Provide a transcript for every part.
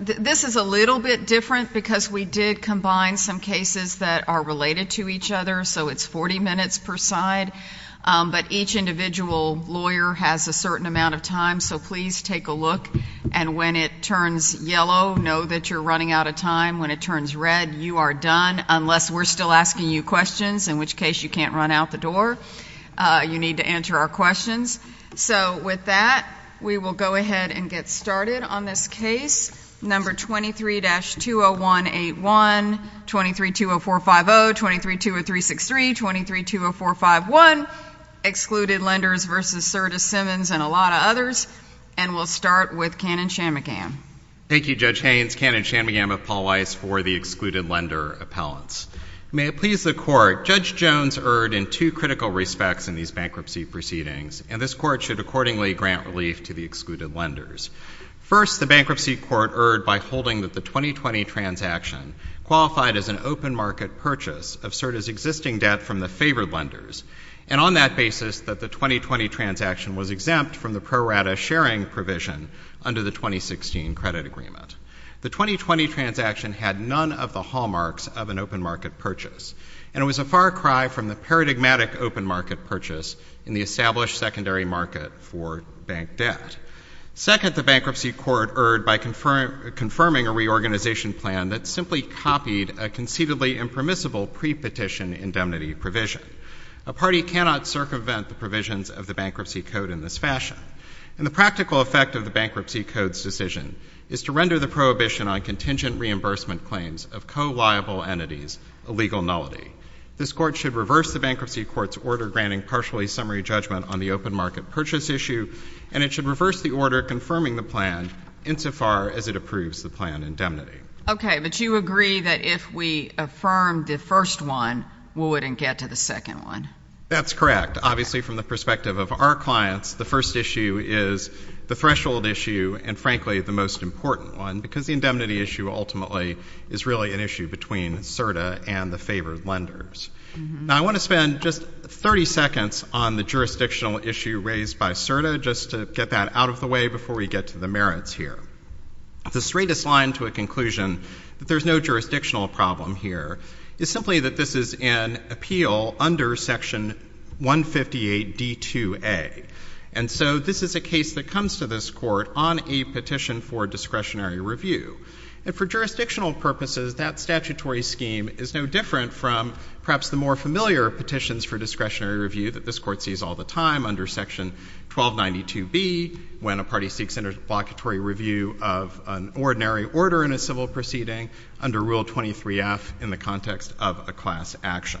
This is a little bit different because we did combine some cases that are related to each other, so it's 40 minutes per side, but each individual lawyer has a certain amount of time, so please take a look. And when it turns yellow, know that you're running out of time. When it turns red, you are done, unless we're still asking you questions, in which case you can't run out the door. You need to answer our questions. So with that, we will go ahead and get started on this case. Number 23-20181, 23-20450, 23-20363, 23-20451, Excluded Lenders v. Serta, Simmons, and a lot of others. And we'll start with Cannon-Shammocam. Thank you, Judge Haynes. Cannon-Shammocam of Paul Weiss for the Excluded Lender Appellants. May it please the Court, Judge Jones erred in two critical respects in these bankruptcy proceedings, and this Court should accordingly grant relief to the Excluded Lenders. First, the Bankruptcy Court erred by holding that the 2020 transaction qualified as an open market purchase of Serta's existing debt from the favored lenders, and on that basis that the 2020 transaction was exempt from the pro rata sharing provision under the 2016 credit agreement. The 2020 transaction had none of the hallmarks of an open market purchase, and it was a far cry from the paradigmatic open market purchase in the established secondary market for bank debt. Second, the Bankruptcy Court erred by confirming a reorganization plan that simply copied a conceivably impermissible pre-petition indemnity provision. A party cannot circumvent the provisions of the Bankruptcy Code in this fashion. And the practical effect of the Bankruptcy Code's decision is to render the prohibition on contingent reimbursement claims of co-liable entities a legal nullity. This Court should reverse the Bankruptcy Court's order granting partially summary judgment on the open market purchase issue, and it should reverse the order confirming the plan insofar as it approves the plan indemnity. Okay, but you agree that if we affirm the first one, we wouldn't get to the second one? That's correct. Obviously, from the perspective of our clients, the first issue is the threshold issue and, frankly, the most important one, because the indemnity issue ultimately is really an issue between CERTA and the favored lenders. Now, I want to spend just 30 seconds on the jurisdictional issue raised by CERTA, just to get that out of the way before we get to the merits here. The straightest line to a conclusion that there's no jurisdictional problem here is simply that this is an appeal under Section 158d2a. And so this is a case that comes to this Court on a petition for discretionary review. And for jurisdictional purposes, that statutory scheme is no different from perhaps the more familiar petitions for discretionary review that this Court sees all the time under Section 1292b, when a party seeks interblockatory review of an ordinary order in a civil proceeding under Rule 23f in the context of a class action.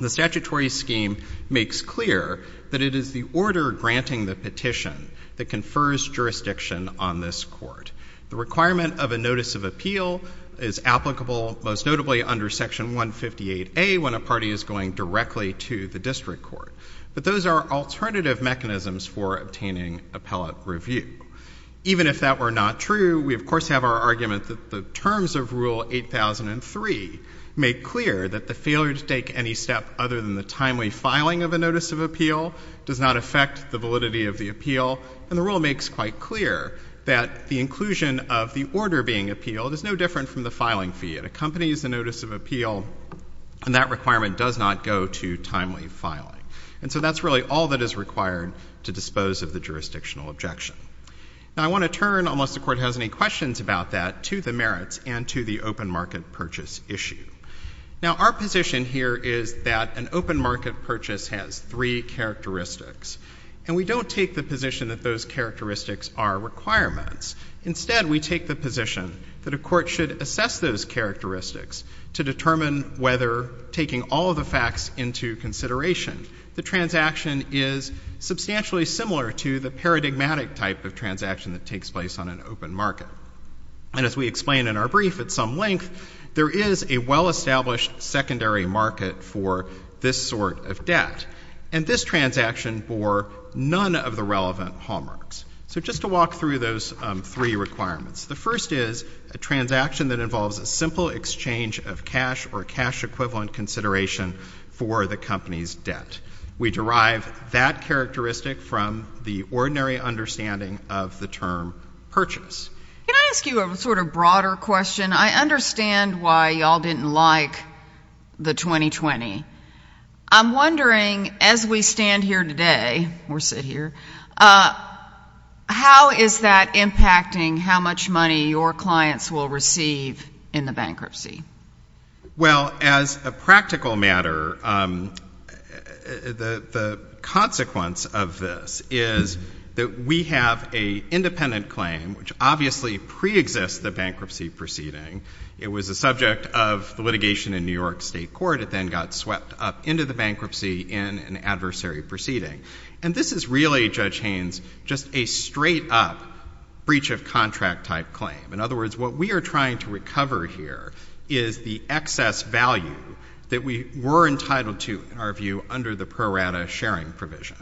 The statutory scheme makes clear that it is the order granting the petition that confers jurisdiction on this Court. The requirement of a notice of appeal is applicable, most notably under Section 158a, when a party is going directly to the district court. But those are alternative mechanisms for obtaining appellate review. Even if that were not true, we of course have our argument that the terms of Rule 8003 make clear that the failure to take any step other than the timely filing of a notice of appeal does not affect the validity of the appeal. And the rule makes quite clear that the inclusion of the order being appealed is no different from the filing fee. It accompanies the notice of appeal, and that requirement does not go to timely filing. And so that's really all that is required to dispose of the jurisdictional objection. Now, I want to turn, unless the Court has any questions about that, to the merits and to the open market purchase issue. Now, our position here is that an open market purchase has three characteristics. And we don't take the position that those characteristics are requirements. Instead, we take the position that a court should assess those characteristics to determine whether, taking all of the facts into consideration, the transaction is substantially similar to the paradigmatic type of transaction that takes place on an open market. And as we explained in our brief at some length, there is a well-established secondary market for this sort of debt, and this transaction for none of the relevant hallmarks. So just to walk through those three requirements. The first is a transaction that involves a simple exchange of cash or cash-equivalent consideration for the company's debt. We derive that characteristic from the ordinary understanding of the term purchase. Can I ask you a sort of broader question? I understand why you all didn't like the 2020. I'm wondering, as we stand here today, or sit here, how is that impacting how much money your clients will receive in the bankruptcy? Well, as a practical matter, the consequence of this is that we have an independent claim, which obviously preexists the bankruptcy proceeding. It was a subject of litigation in New York State Court. It then got swept up into the bankruptcy in an adversary proceeding. And this is really, Judge Haynes, just a straight-up breach-of-contract-type claim. In other words, what we are trying to recover here is the excess value that we were entitled to, in our view, under the pro rata sharing provision.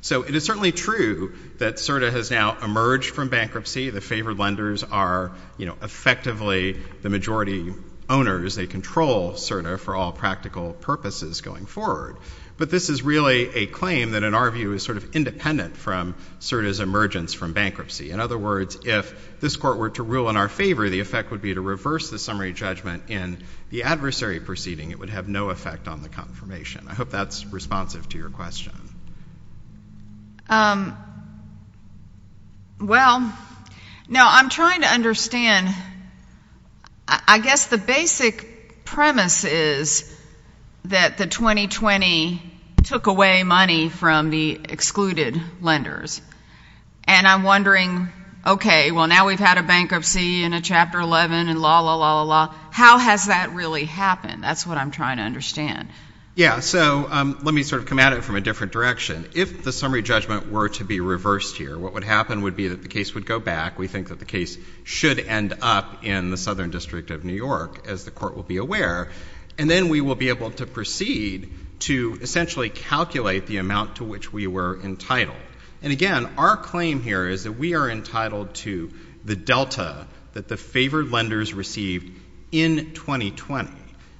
So it is certainly true that CERDA has now emerged from bankruptcy. The favored lenders are, you know, effectively the majority owners. They control CERDA for all practical purposes going forward. But this is really a claim that, in our view, is sort of independent from CERDA's emergence from bankruptcy. In other words, if this Court were to rule in our favor, the effect would be to reverse the summary judgment in the adversary proceeding. It would have no effect on the confirmation. I hope that's responsive to your question. Well, no, I'm trying to understand. I guess the basic premise is that the 2020 took away money from the excluded lenders. And I'm wondering, okay, well, now we've had a bankruptcy and a Chapter 11 and la, la, la, la, la. How has that really happened? That's what I'm trying to understand. Yeah, so let me sort of come at it from a different direction. If the summary judgment were to be reversed here, what would happen would be that the case would go back. We think that the case should end up in the Southern District of New York, as the Court will be aware. And then we will be able to proceed to essentially calculate the amount to which we were entitled. And, again, our claim here is that we are entitled to the delta that the favored lenders received in 2020.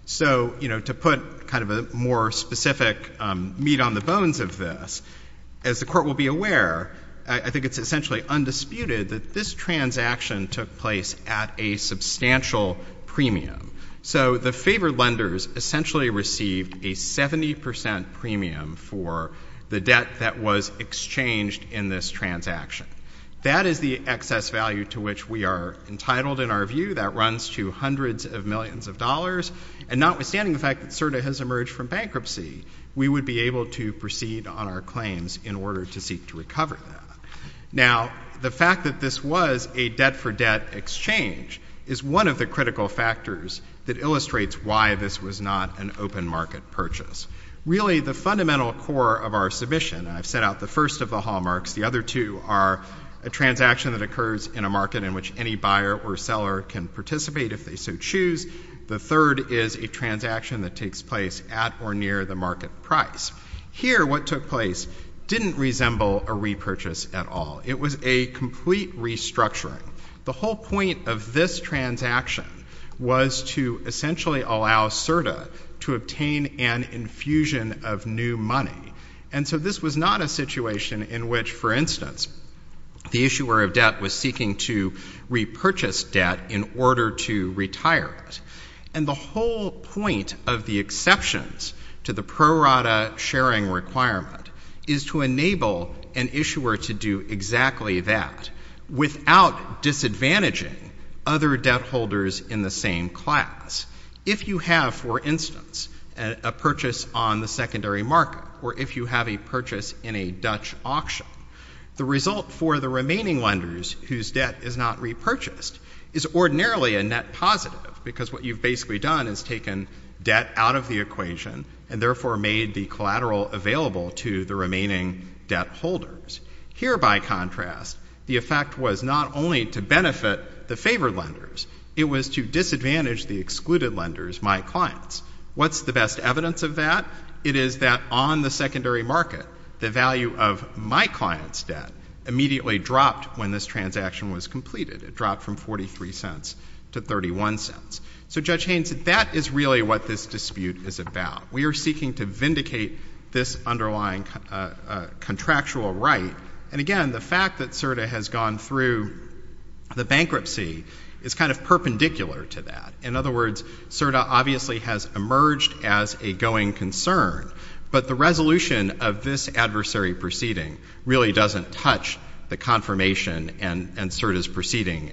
So, you know, to put kind of a more specific meat on the bones of this, as the Court will be aware, I think it's essentially undisputed that this transaction took place at a substantial premium. So the favored lenders essentially received a 70 percent premium for the debt that was exchanged in this transaction. That is the excess value to which we are entitled in our view. That runs to hundreds of millions of dollars. And notwithstanding the fact that CERDA has emerged from bankruptcy, we would be able to proceed on our claims in order to seek to recover that. Now, the fact that this was a debt-for-debt exchange is one of the critical factors that illustrates why this was not an open market purchase. Really, the fundamental core of our submission, I've set out the first of the hallmarks. The other two are a transaction that occurs in a market in which any buyer or seller can participate if they so choose. The third is a transaction that takes place at or near the market price. Here, what took place didn't resemble a repurchase at all. It was a complete restructuring. The whole point of this transaction was to essentially allow CERDA to obtain an infusion of new money. And so this was not a situation in which, for instance, the issuer of debt was seeking to repurchase debt in order to retire it. And the whole point of the exceptions to the pro rata sharing requirement is to enable an issuer to do exactly that without disadvantaging other debt holders in the same class. If you have, for instance, a purchase on the secondary market or if you have a purchase in a Dutch auction, the result for the remaining lenders whose debt is not repurchased is ordinarily a net positive because what you've basically done is taken debt out of the equation and therefore made the collateral available to the remaining debt holders. Here, by contrast, the effect was not only to benefit the favored lenders. It was to disadvantage the excluded lenders, my clients. What's the best evidence of that? It is that on the secondary market, the value of my client's debt immediately dropped when this transaction was completed. It dropped from 43 cents to 31 cents. So, Judge Haynes, that is really what this dispute is about. We are seeking to vindicate this underlying contractual right. And, again, the fact that CERDA has gone through the bankruptcy is kind of perpendicular to that. In other words, CERDA obviously has emerged as a going concern, but the resolution of this adversary proceeding really doesn't touch the confirmation and CERDA's proceeding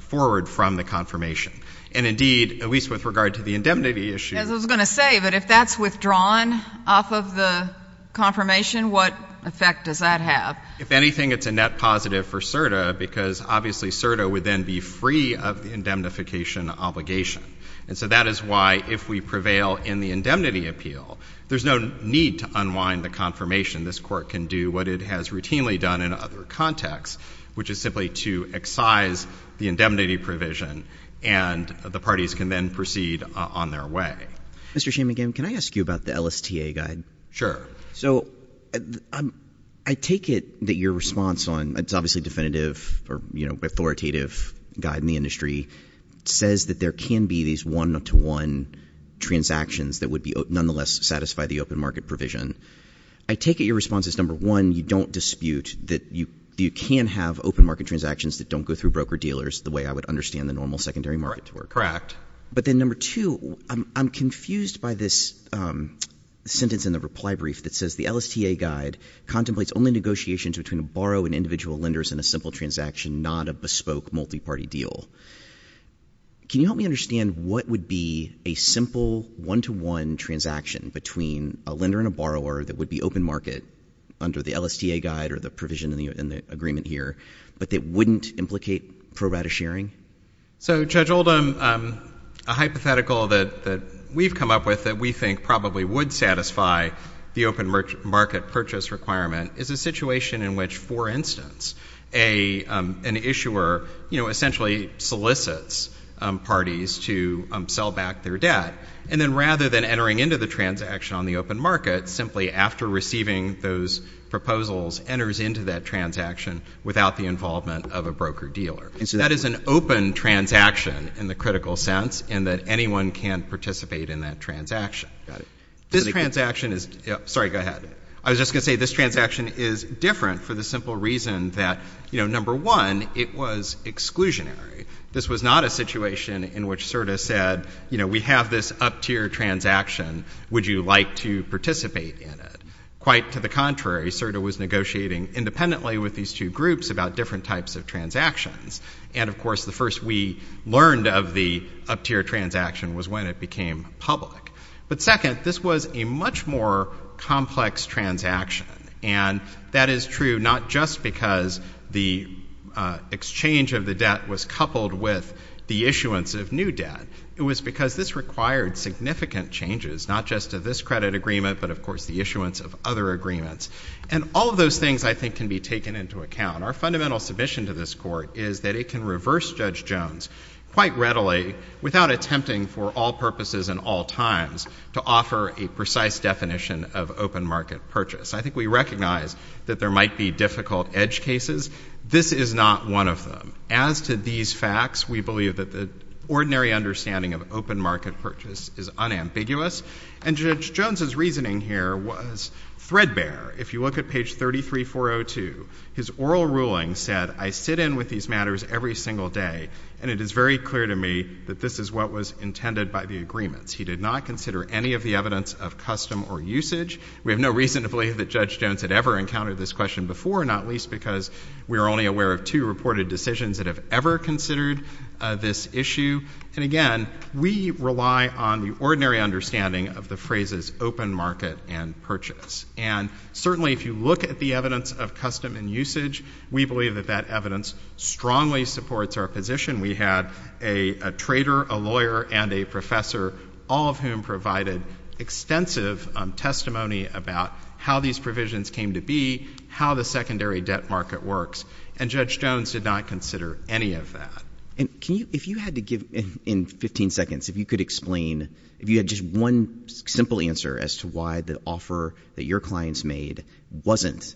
forward from the confirmation. And, indeed, at least with regard to the indemnity issue. I was going to say that if that's withdrawn off of the confirmation, what effect does that have? If anything, it's a net positive for CERDA because, obviously, CERDA would then be free of the indemnification obligation. And so that is why, if we prevail in the indemnity appeal, there's no need to unwind the confirmation. This Court can do what it has routinely done in other contexts, which is simply to excise the indemnity provision and the parties can then proceed on their way. Mr. Shamingham, can I ask you about the LSTA guide? So, I take it that your response on, it's obviously definitive or authoritative guide in the industry, says that there can be these one-to-one transactions that would nonetheless satisfy the open market provision. I take it your response is, number one, you don't dispute that you can have open market transactions that don't go through broker-dealers the way I would understand the normal secondary market. Correct. But then, number two, I'm confused by this sentence in the reply brief that says, the LSTA guide contemplates only negotiations between a borrower and individual lenders in a simple transaction, not a bespoke multi-party deal. Can you help me understand what would be a simple one-to-one transaction between a lender and a borrower that would be open market under the LSTA guide or the provision in the agreement here, but that wouldn't implicate pro-rata sharing? So, Judge Oldham, a hypothetical that we've come up with that we think probably would satisfy the open market purchase requirement is a situation in which, for instance, an issuer essentially solicits parties to sell back their debt, and then rather than entering into the transaction on the open market, simply after receiving those proposals, enters into that transaction without the involvement of a broker-dealer. And so that is an open transaction in the critical sense, and that anyone can participate in that transaction. Got it. This transaction is—sorry, go ahead. I was just going to say this transaction is different for the simple reason that, you know, number one, it was exclusionary. This was not a situation in which CERDA said, you know, we have this up-tier transaction. Would you like to participate in it? Quite to the contrary, CERDA was negotiating independently with these two groups about different types of transactions. And, of course, the first we learned of the up-tier transaction was when it became public. But second, this was a much more complex transaction. And that is true not just because the exchange of the debt was coupled with the issuance of new debt. It was because this required significant changes, not just to this credit agreement, but, of course, the issuance of other agreements. And all of those things, I think, can be taken into account. Our fundamental submission to this Court is that it can reverse Judge Jones quite readily without attempting for all purposes and all times to offer a precise definition of open market purchase. I think we recognize that there might be difficult edge cases. This is not one of them. As to these facts, we believe that the ordinary understanding of open market purchase is unambiguous. And Judge Jones' reasoning here was threadbare. If you look at page 33402, his oral ruling said, I sit in with these matters every single day, and it is very clear to me that this is what was intended by the agreement. He did not consider any of the evidence of custom or usage. We have no reason to believe that Judge Jones had ever encountered this question before, not least because we are only aware of two reported decisions that have ever considered this issue. And, again, we rely on the ordinary understanding of the phrases open market and purchase. And, certainly, if you look at the evidence of custom and usage, we believe that that evidence strongly supports our position. We had a trader, a lawyer, and a professor, all of whom provided extensive testimony about how these provisions came to be, how the secondary debt market works, and Judge Jones did not consider any of that. And if you had to give, in 15 seconds, if you could explain, if you had just one simple answer as to why the offer that your clients made wasn't,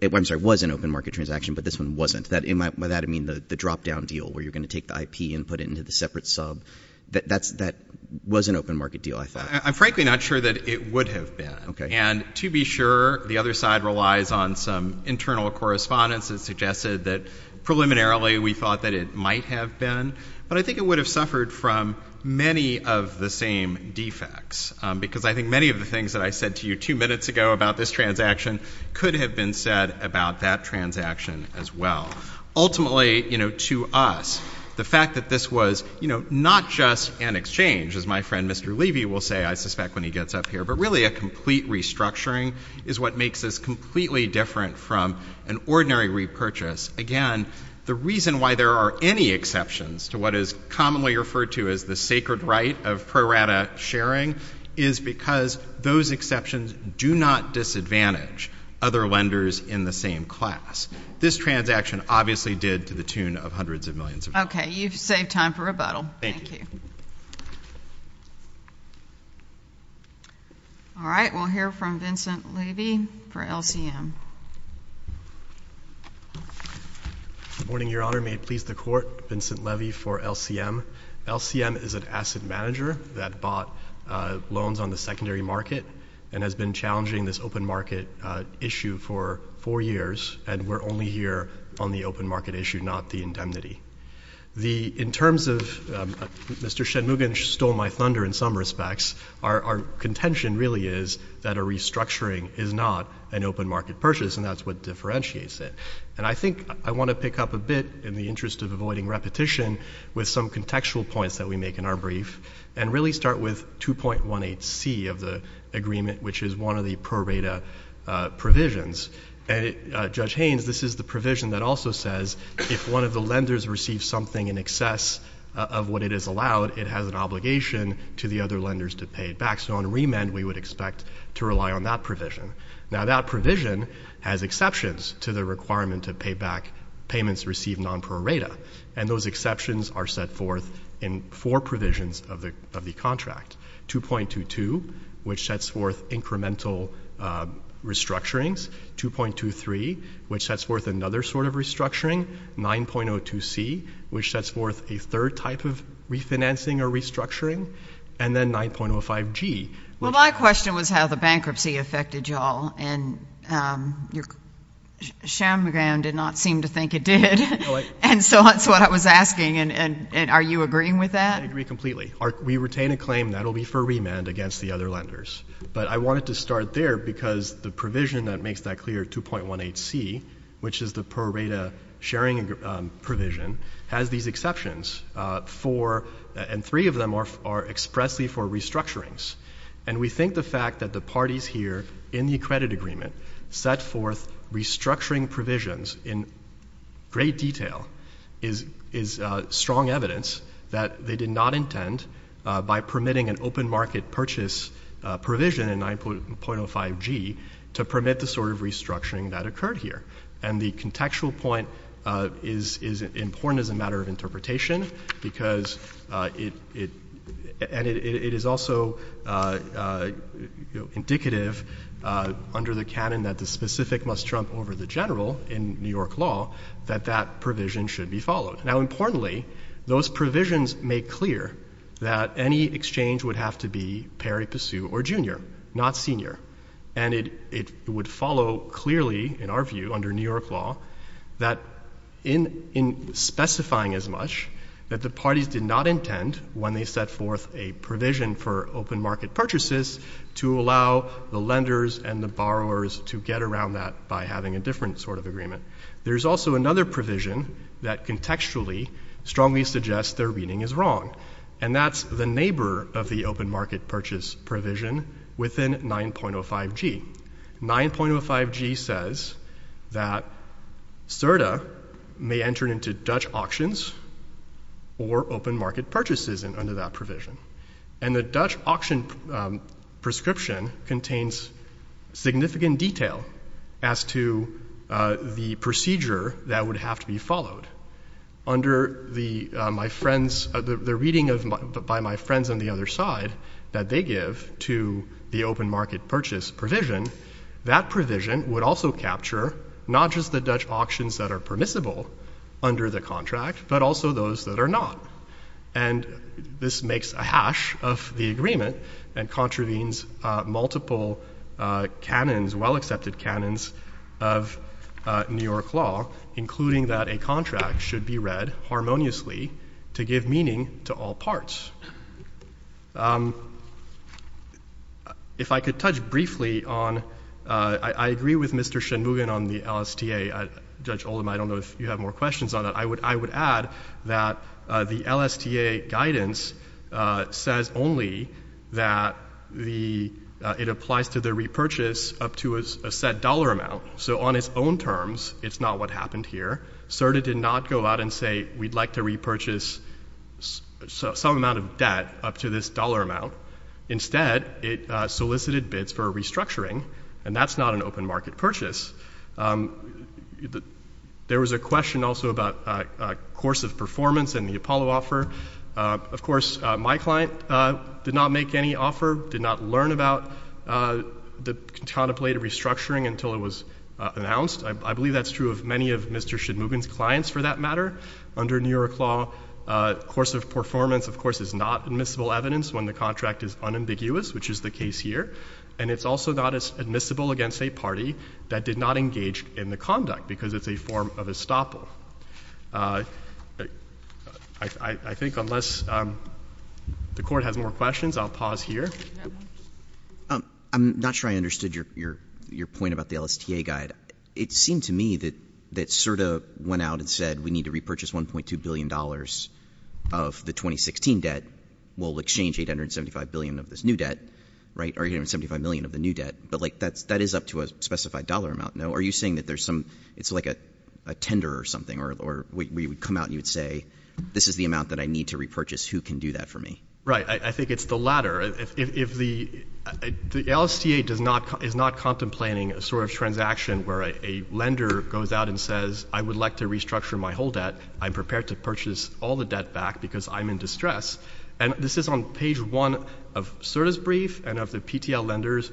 I'm sorry, was an open market transaction, but this one wasn't. By that I mean the drop-down deal where you're going to take the IP and put it into the separate sub. That was an open market deal, I thought. I'm frankly not sure that it would have been. And, to be sure, the other side relies on some internal correspondence that suggested that, preliminarily, we thought that it might have been. But I think it would have suffered from many of the same defects, because I think many of the things that I said to you two minutes ago about this transaction could have been said about that transaction as well. Ultimately, you know, to us, the fact that this was, you know, not just an exchange, as my friend Mr. Levy will say, I suspect, when he gets up here, but really a complete restructuring is what makes this completely different from an ordinary repurchase. Again, the reason why there are any exceptions to what is commonly referred to as the sacred right of pro rata sharing is because those exceptions do not disadvantage other lenders in the same class. This transaction obviously did to the tune of hundreds of millions of dollars. Okay, you've saved time for rebuttal. Thank you. All right, we'll hear from Vincent Levy for LCM. Good morning, Your Honor. May it please the Court, Vincent Levy for LCM. LCM is an asset manager that bought loans on the secondary market and has been challenging this open market issue for four years, and we're only here on the open market issue, not the indemnity. In terms of Mr. Shenmugin stole my thunder in some respects, our contention really is that a restructuring is not an open market purchase, and that's what differentiates it. And I think I want to pick up a bit, in the interest of avoiding repetition, with some contextual points that we make in our brief and really start with 2.18c of the agreement, which is one of the pro rata provisions. Judge Haynes, this is the provision that also says, if one of the lenders receives something in excess of what it is allowed, it has an obligation to the other lenders to pay it back. So on remand, we would expect to rely on that provision. Now, that provision has exceptions to the requirement to pay back payments received non pro rata, and those exceptions are set forth in four provisions of the contract. 2.22, which sets forth incremental restructurings. 2.23, which sets forth another sort of restructuring. 9.02c, which sets forth a third type of refinancing or restructuring. And then 9.05g. Well, my question was how the bankruptcy affected you all, and Shenmugin did not seem to think it did, and so that's what I was asking. And are you agreeing with that? I agree completely. We retain a claim that it will be for remand against the other lenders. But I wanted to start there because the provision that makes that clear, 2.18c, which is the pro rata sharing provision, has these exceptions, and three of them are expressly for restructurings. And we think the fact that the parties here in the credit agreement set forth restructuring provisions in great detail is strong evidence that they did not intend, by permitting an open market purchase provision in 9.05g, to permit the sort of restructuring that occurred here. And the contextual point is important as a matter of interpretation because it is also indicative under the canon that the specific must trump over the general in New York law that that provision should be followed. Now, importantly, those provisions make clear that any exchange would have to be Perry, Passeu, or Junior, not Senior. And it would follow clearly, in our view, under New York law, that in specifying as much, that the parties did not intend, when they set forth a provision for open market purchases, to allow the lenders and the borrowers to get around that by having a different sort of agreement. There's also another provision that contextually strongly suggests their reading is wrong. And that's the neighbor of the open market purchase provision within 9.05g. 9.05g says that SIRTA may enter into Dutch auctions or open market purchases under that provision. And the Dutch auction prescription contains significant detail as to the procedure that would have to be followed. Under the reading by my friends on the other side that they give to the open market purchase provision, that provision would also capture not just the Dutch auctions that are permissible under the contract, but also those that are not. And this makes a hash of the agreement and contravenes multiple canons, well-accepted canons, of New York law, including that a contract should be read harmoniously to give meaning to all parts. If I could touch briefly on, I agree with Mr. Shinmugin on the LSTA. Judge Oldham, I don't know if you have more questions on it. I would add that the LSTA guidance says only that it applies to the repurchase up to a set dollar amount. So on its own terms, it's not what happened here. SIRTA did not go out and say we'd like to repurchase some amount of debt up to this dollar amount. Instead, it solicited bids for restructuring, and that's not an open market purchase. There was a question also about course of performance and the Apollo offer. Of course, my client did not make any offer, did not learn about the contraplay to restructuring until it was announced. I believe that's true of many of Mr. Shinmugin's clients for that matter. Under New York law, course of performance, of course, is not admissible evidence when the contract is unambiguous, which is the case here. And it's also not admissible against a party that did not engage in the conduct because it's a form of estoppel. I think unless the court has more questions, I'll pause here. I'm not sure I understood your point about the LSTA guide. It seemed to me that SIRTA went out and said we need to repurchase $1.2 billion of the 2016 debt. We'll exchange $875 billion of this new debt. $875 million of the new debt. But that is up to a specified dollar amount. Are you saying that it's like a tender or something, or we would come out and you would say, this is the amount that I need to repurchase. Who can do that for me? Right. I think it's the latter. The LSTA is not contemplating a sort of transaction where a lender goes out and says, I would like to restructure my whole debt. I'm prepared to purchase all the debt back because I'm in distress. And this is on page one of SIRTA's brief and of the PTL lenders.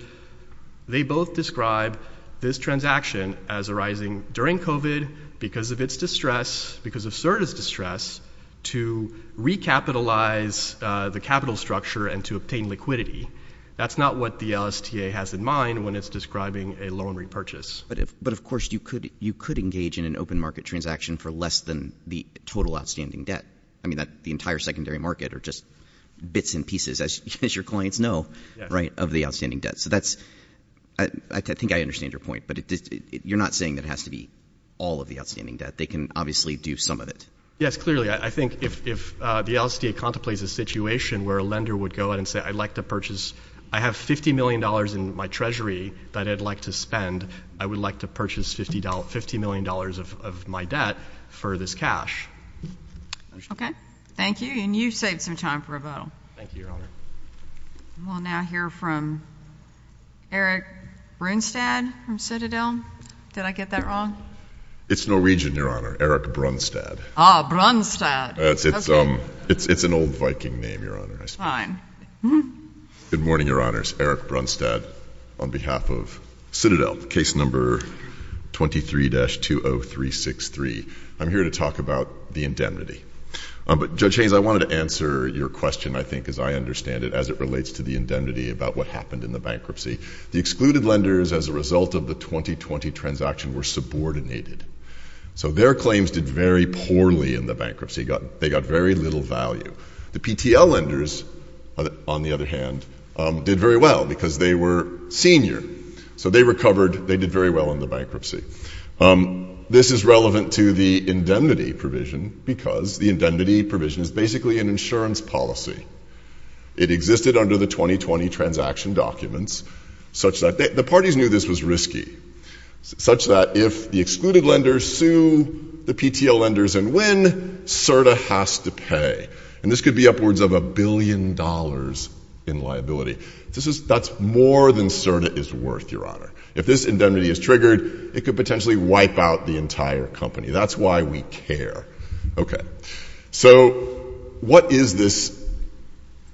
They both describe this transaction as arising during COVID because of its distress, because of SIRTA's distress, to recapitalize the capital structure and to obtain liquidity. That's not what the LSTA has in mind when it's describing a loan repurchase. But of course, you could engage in an open market transaction for less than the total outstanding debt. I mean, the entire secondary market are just bits and pieces, as your clients know, right, of the outstanding debt. So that's, I think I understand your point. But you're not saying that has to be all of the outstanding debt. They can obviously do some of it. Yes, clearly. I think if the LSTA contemplates a situation where a lender would go out and say, I'd like to purchase, I have $50 million in my treasury that I'd like to spend. I would like to purchase $50 million of my debt for this cash. Okay. Thank you. And you saved some time for a vote. Thank you, Your Honor. We'll now hear from Eric Brunstad from Citadel. Did I get that wrong? It's Norwegian, Your Honor, Eric Brunstad. Ah, Brunstad. It's an old Viking name, Your Honor. Fine. Good morning, Your Honor. It's Eric Brunstad on behalf of Citadel, case number 23-20363. I'm here to talk about the indemnity. But, Judge Haynes, I wanted to answer your question, I think, as I understand it, as it relates to the indemnity about what happened in the bankruptcy. The excluded lenders, as a result of the 2020 transaction, were subordinated. So their claims did very poorly in the bankruptcy. They got very little value. The PTL lenders, on the other hand, did very well because they were seniors. So they recovered. They did very well in the bankruptcy. This is relevant to the indemnity provision because the indemnity provision is basically an insurance policy. It existed under the 2020 transaction documents, such that the parties knew this was risky, such that if the excluded lenders sue the PTL lenders and win, CERTA has to pay. And this could be upwards of a billion dollars in liability. That's more than CERTA is worth, Your Honor. If this indemnity is triggered, it could potentially wipe out the entire company. That's why we care. Okay. So what is this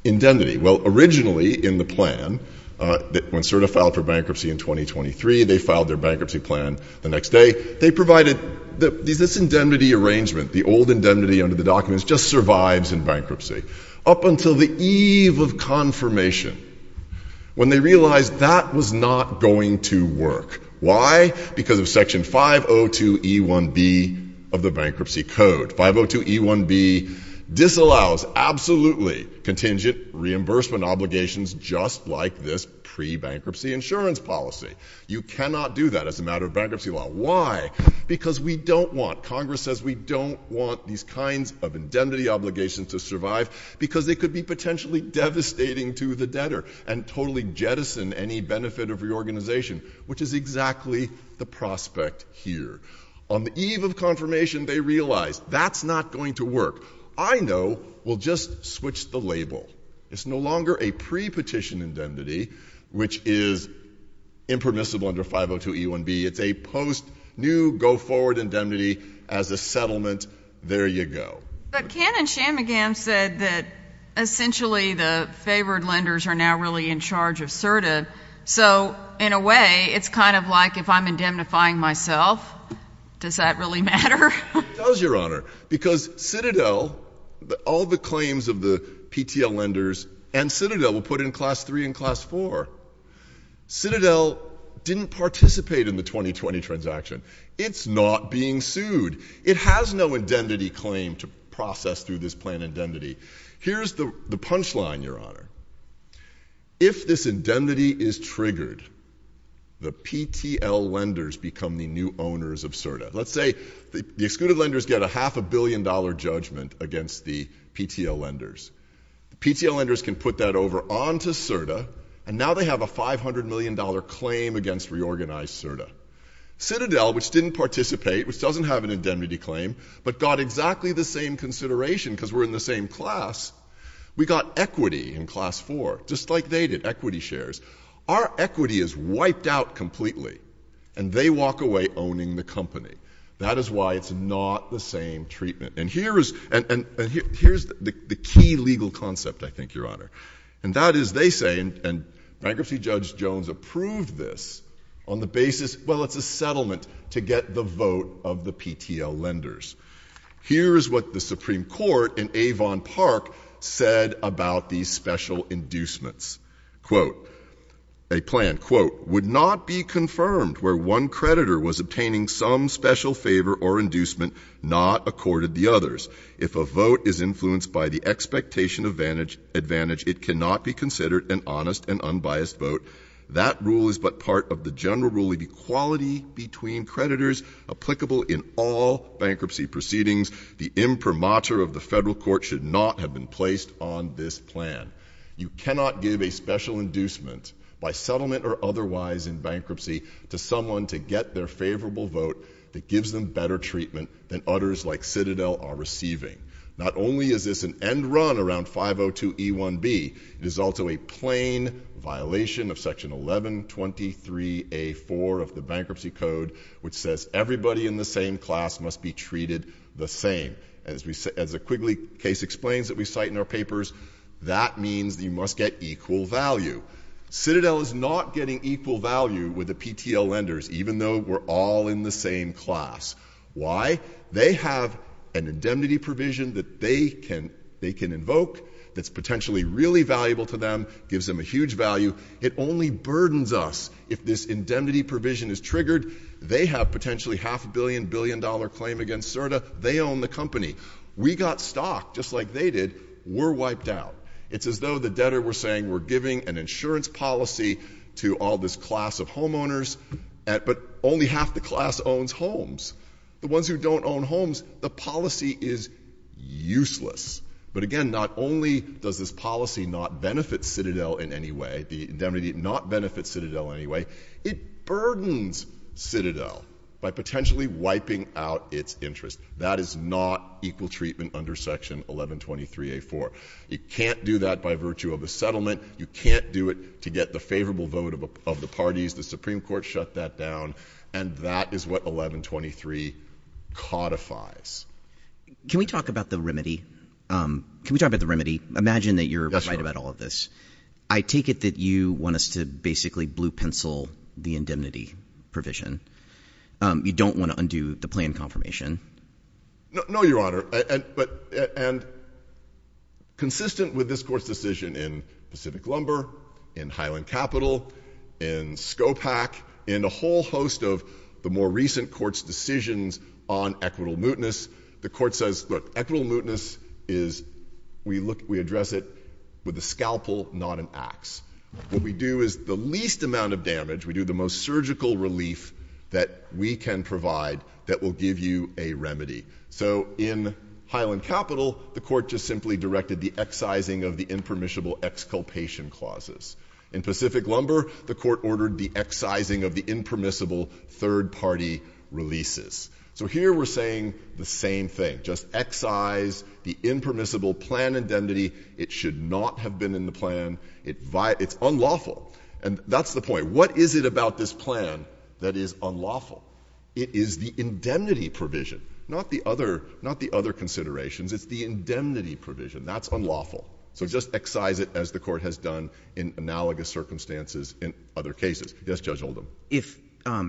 indemnity? Well, originally in the plan, when CERTA filed for bankruptcy in 2023, they filed their bankruptcy plan the next day. They provided this indemnity arrangement, the old indemnity under the documents, just survives in bankruptcy, up until the eve of confirmation, when they realized that was not going to work. Why? Because of Section 502e1b of the Bankruptcy Code. 502e1b disallows absolutely contingent reimbursement obligations just like this pre-bankruptcy insurance policy. You cannot do that as a matter of bankruptcy law. Why? Because we don't want, Congress says we don't want these kinds of indemnity obligations to survive because it could be potentially devastating to the debtor and totally jettison any benefit of reorganization, which is exactly the prospect here. On the eve of confirmation, they realize that's not going to work. I know we'll just switch the label. It's no longer a pre-petition indemnity, which is impermissible under 502e1b. If they post new go-forward indemnity as a settlement, there you go. But Ken and Shanmugam said that essentially the favored lenders are now really in charge of CERTA. So in a way, it's kind of like if I'm indemnifying myself, does that really matter? It does, Your Honor, because Citadel, all the claims of the PTL lenders and Citadel were put in Class 3 and Class 4. Citadel didn't participate in the 2020 transaction. It's not being sued. It has no indemnity claim to process through this plan of indemnity. Here's the punchline, Your Honor. If this indemnity is triggered, the PTL lenders become the new owners of CERTA. Let's say the excluded lenders get a half-a-billion-dollar judgment against the PTL lenders. PTL lenders can put that over onto CERTA, and now they have a $500 million claim against reorganized CERTA. Citadel, which didn't participate, which doesn't have an indemnity claim, but got exactly the same consideration because we're in the same class, we got equity in Class 4, just like they did, equity shares. Our equity is wiped out completely, and they walk away owning the company. That is why it's not the same treatment. And here is the key legal concept, I think, Your Honor. And that is they say, and bankruptcy judge Jones approved this, on the basis, well, it's a settlement to get the vote of the PTL lenders. Here is what the Supreme Court in Avon Park said about these special inducements. A plan, quote, would not be confirmed where one creditor was obtaining some special favor or inducement not accorded the others. If a vote is influenced by the expectation advantage, it cannot be considered an honest and unbiased vote. That rule is but part of the general rule of equality between creditors applicable in all bankruptcy proceedings. The imprimatur of the federal court should not have been placed on this plan. You cannot give a special inducement, by settlement or otherwise in bankruptcy, to someone to get their favorable vote that gives them better treatment than others like Citadel are receiving. Not only is this an end run around 502E1B, it is also a plain violation of Section 1123A4 of the Bankruptcy Code, which says everybody in the same class must be treated the same. As the Quigley case explains that we cite in our papers, that means you must get equal value. Citadel is not getting equal value with the PTL lenders, even though we're all in the same class. Why? They have an indemnity provision that they can invoke that's potentially really valuable to them, gives them a huge value. It only burdens us if this indemnity provision is triggered. They have potentially half a billion, billion dollar claim against CERTA. They own the company. We got stock, just like they did. We're wiped out. It's as though the debtor were saying we're giving an insurance policy to all this class of homeowners, but only half the class owns homes. The ones who don't own homes, the policy is useless. But again, not only does this policy not benefit Citadel in any way, the indemnity did not benefit Citadel in any way, it burdens Citadel by potentially wiping out its interest. That is not equal treatment under Section 1123A4. You can't do that by virtue of a settlement. You can't do it to get the favorable vote of the parties. The Supreme Court shut that down, and that is what 1123 codifies. Can we talk about the remedy? Can we talk about the remedy? Imagine that you're right about all of this. I take it that you want us to basically blue pencil the indemnity provision. You don't want to undo the claim confirmation. No, Your Honor. Consistent with this court's decision in Pacific Lumber, in Highland Capital, in Scopack, in a whole host of the more recent court's decisions on equitable mootness, the court says, look, equitable mootness is, we address it with a scalpel, not an axe. What we do is the least amount of damage, we do the most surgical relief that we can provide that will give you a remedy. So in Highland Capital, the court just simply directed the excising of the impermissible exculpation clauses. In Pacific Lumber, the court ordered the excising of the impermissible third-party releases. So here we're saying the same thing. Just excise the impermissible plan indemnity. It should not have been in the plan. It's unlawful. And that's the point. What is it about this plan that is unlawful? It is the indemnity provision, not the other considerations. It's the indemnity provision. That's unlawful. So just excise it as the court has done in analogous circumstances in other cases. Yes, Judge Oldham. If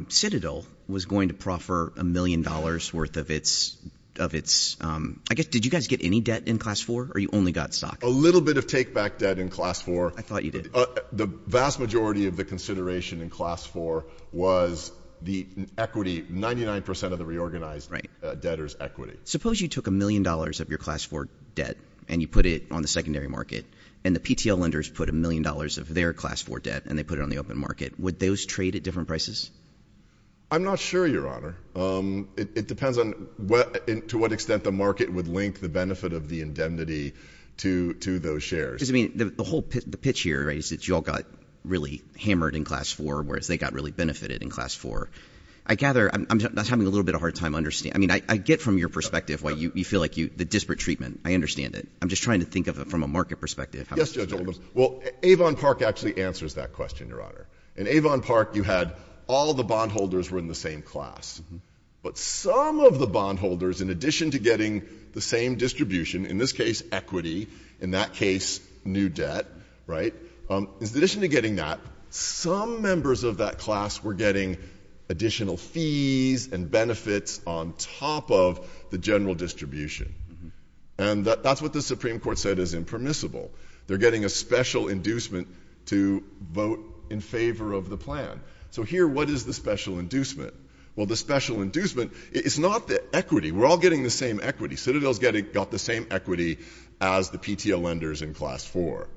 Citadel was going to proffer a million dollars worth of its, I guess, did you guys get any debt in Class 4 or you only got stock? A little bit of take-back debt in Class 4. I thought you did. The vast majority of the consideration in Class 4 was the equity, 99% of the reorganized debtor's equity. Suppose you took a million dollars of your Class 4 debt and you put it on the secondary market, and the PTL lenders put a million dollars of their Class 4 debt and they put it on the open market. Would those trade at different prices? I'm not sure, Your Honor. It depends on to what extent the market would link the benefit of the indemnity to those shares. The whole pitch here is you all got really hammered in Class 4, whereas they got really benefited in Class 4. I gather I'm having a little bit of a hard time understanding. I mean, I get from your perspective why you feel like the disparate treatment. I understand it. I'm just trying to think of it from a market perspective. Yes, Judge Oldham. Well, Avon Park actually answers that question, Your Honor. In Avon Park, you had all the bondholders were in the same class. But some of the bondholders, in addition to getting the same distribution, in this case equity, in that case new debt, right? In addition to getting that, some members of that class were getting additional fees and benefits on top of the general distribution. And that's what the Supreme Court said is impermissible. They're getting a special inducement to vote in favor of the plan. So here, what is the special inducement? Well, the special inducement is not the equity. We're all getting the same equity. Citadel got the same equity as the PTL lenders in Class 4.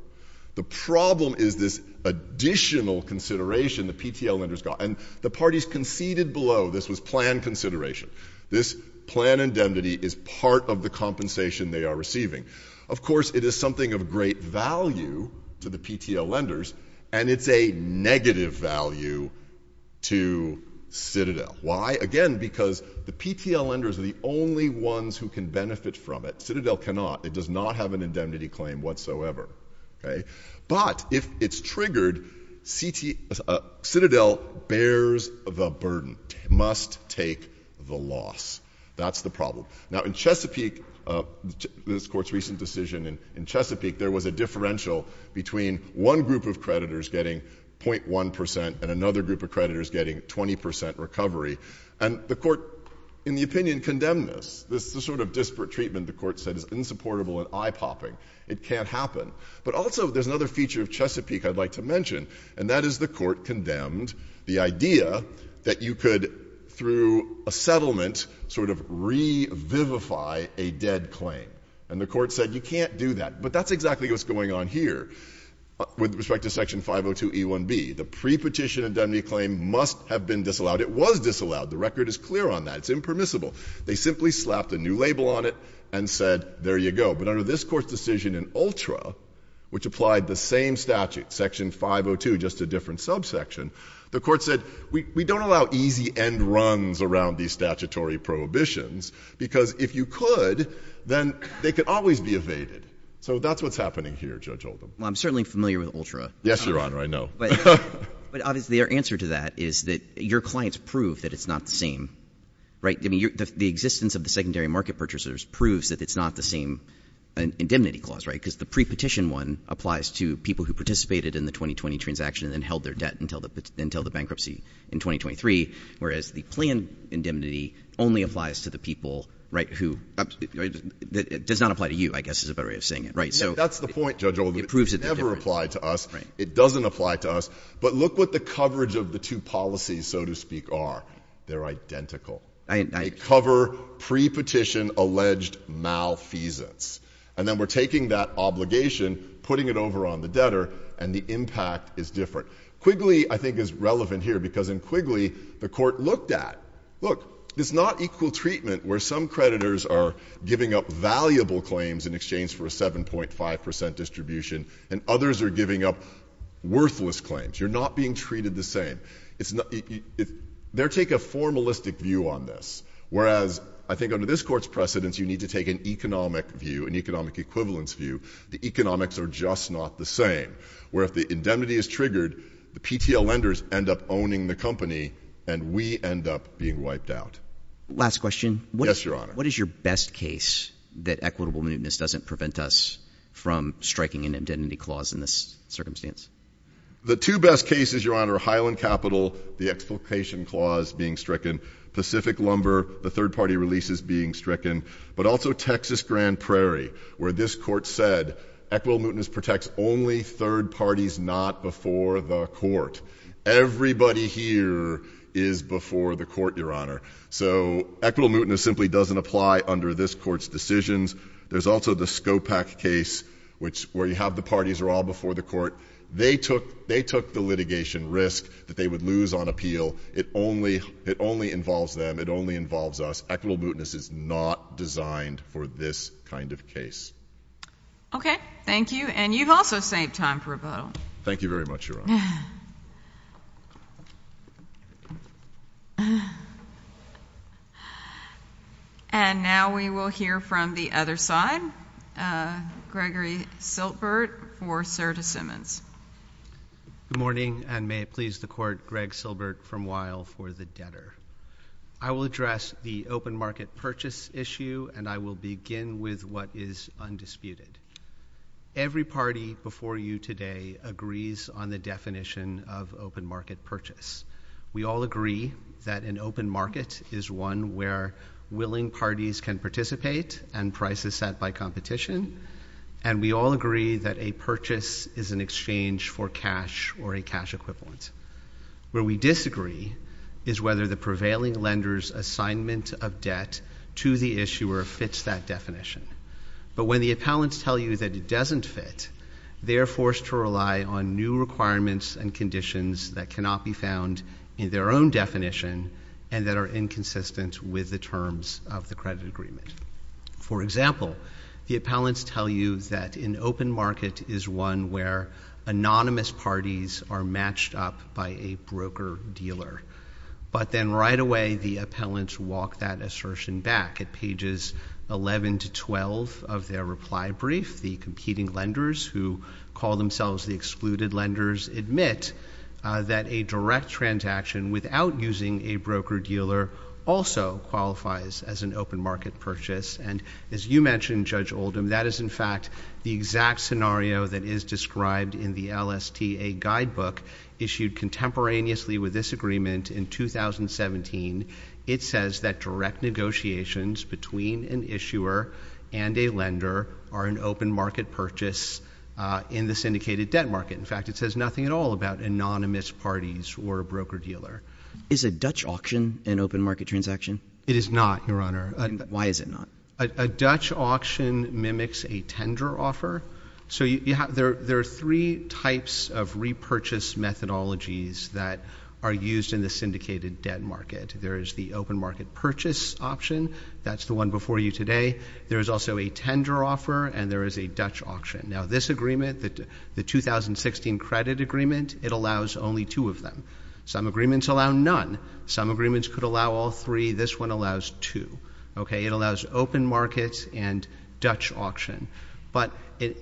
The problem is this additional consideration the PTL lenders got. And the parties conceded below this was plan consideration. This plan indemnity is part of the compensation they are receiving. Of course, it is something of great value to the PTL lenders, and it's a negative value to Citadel. Why? Again, because the PTL lenders are the only ones who can benefit from it. Citadel cannot. It does not have an indemnity claim whatsoever. But if it's triggered, Citadel bears the burden, must take the loss. That's the problem. Now, in Chesapeake, this Court's recent decision in Chesapeake, there was a differential between one group of creditors getting 0.1 percent and another group of creditors getting 20 percent recovery. And the Court, in the opinion, condemned this. The sort of disparate treatment the Court said is insupportable and eye-popping. It can't happen. But also there's another feature of Chesapeake I'd like to mention, and that is the Court condemned the idea that you could, through a settlement, sort of revivify a dead claim. And the Court said you can't do that. But that's exactly what's going on here with respect to Section 502e1b. The prepetition indemnity claim must have been disallowed. It was disallowed. The record is clear on that. It's impermissible. They simply slapped a new label on it and said, there you go. But under this Court's decision in Ultra, which applied the same statute, Section 502, just a different subsection, the Court said we don't allow easy end runs around these statutory prohibitions because if you could, then they could always be evaded. So that's what's happening here, Judge Oldham. Well, I'm certainly familiar with Ultra. Yes, Your Honor, I know. But obviously our answer to that is that your clients prove that it's not the same, right? I mean, the existence of the secondary market purchasers proves that it's not the same indemnity clause, right? Because the prepetition one applies to people who participated in the 2020 transaction and held their debt until the bankruptcy in 2023, whereas the planned indemnity only applies to the people, right, who – it does not apply to you, I guess is a better way of saying it, right? That's the point, Judge Oldham. It never applied to us. It doesn't apply to us. But look what the coverage of the two policies, so to speak, are. They're identical. They cover prepetition alleged malfeasance. And then we're taking that obligation, putting it over on the debtor, and the impact is different. Quigley, I think, is relevant here because in Quigley, the court looked at, look, it's not equal treatment where some creditors are giving up valuable claims in exchange for a 7.5 percent distribution and others are giving up worthless claims. You're not being treated the same. They're taking a formalistic view on this, whereas I think under this court's precedence, you need to take an economic view, an economic equivalence view. The economics are just not the same, where if the indemnity is triggered, the PTL lenders end up owning the company and we end up being wiped out. Last question. Yes, Your Honor. What is your best case that equitable mootness doesn't prevent us from striking an indemnity clause in this circumstance? The two best cases, Your Honor, Highland Capital, the exploitation clause being stricken, Pacific Lumber, the third party releases being stricken, but also Texas Grand Prairie, where this court said equitable mootness protects only third parties not before the court. Everybody here is before the court, Your Honor. So equitable mootness simply doesn't apply under this court's decisions. There's also the Scopack case, where you have the parties are all before the court. They took the litigation risk that they would lose on appeal. It only involves them. It only involves us. Equitable mootness is not designed for this kind of case. Okay. Thank you. And you've also saved time for a vote. Thank you very much, Your Honor. And now we will hear from the other side, Gregory Silbert or Serta Simmons. Good morning, and may it please the court, Greg Silbert from Weill for the debtor. I will address the open market purchase issue, and I will begin with what is undisputed. Every party before you today agrees on the definition of open market purchase. We all agree that an open market is one where willing parties can participate and prices set by competition, and we all agree that a purchase is an exchange for cash or a cash equivalent. Where we disagree is whether the prevailing lender's assignment of debt to the issuer fits that definition. But when the appellants tell you that it doesn't fit, they are forced to rely on new requirements and conditions that cannot be found in their own definition and that are inconsistent with the terms of the credit agreement. For example, the appellants tell you that an open market is one where anonymous parties are matched up by a broker-dealer, but then right away the appellants walk that assertion back. At pages 11 to 12 of their reply brief, the competing lenders, who call themselves the excluded lenders, admit that a direct transaction without using a broker-dealer also qualifies as an open market purchase. And as you mentioned, Judge Oldham, that is in fact the exact scenario that is described in the LSTA guidebook issued contemporaneously with this agreement in 2017. It says that direct negotiations between an issuer and a lender are an open market purchase in the syndicated debt market. In fact, it says nothing at all about anonymous parties or a broker-dealer. Is a Dutch auction an open market transaction? It is not, Your Honor. Why is it not? A Dutch auction mimics a tender offer. So there are three types of repurchase methodologies that are used in the syndicated debt market. There is the open market purchase option. That's the one before you today. There is also a tender offer, and there is a Dutch auction. Now, this agreement, the 2016 credit agreement, it allows only two of them. Some agreements allow none. Some agreements could allow all three. This one allows two. It allows open market and Dutch auction. But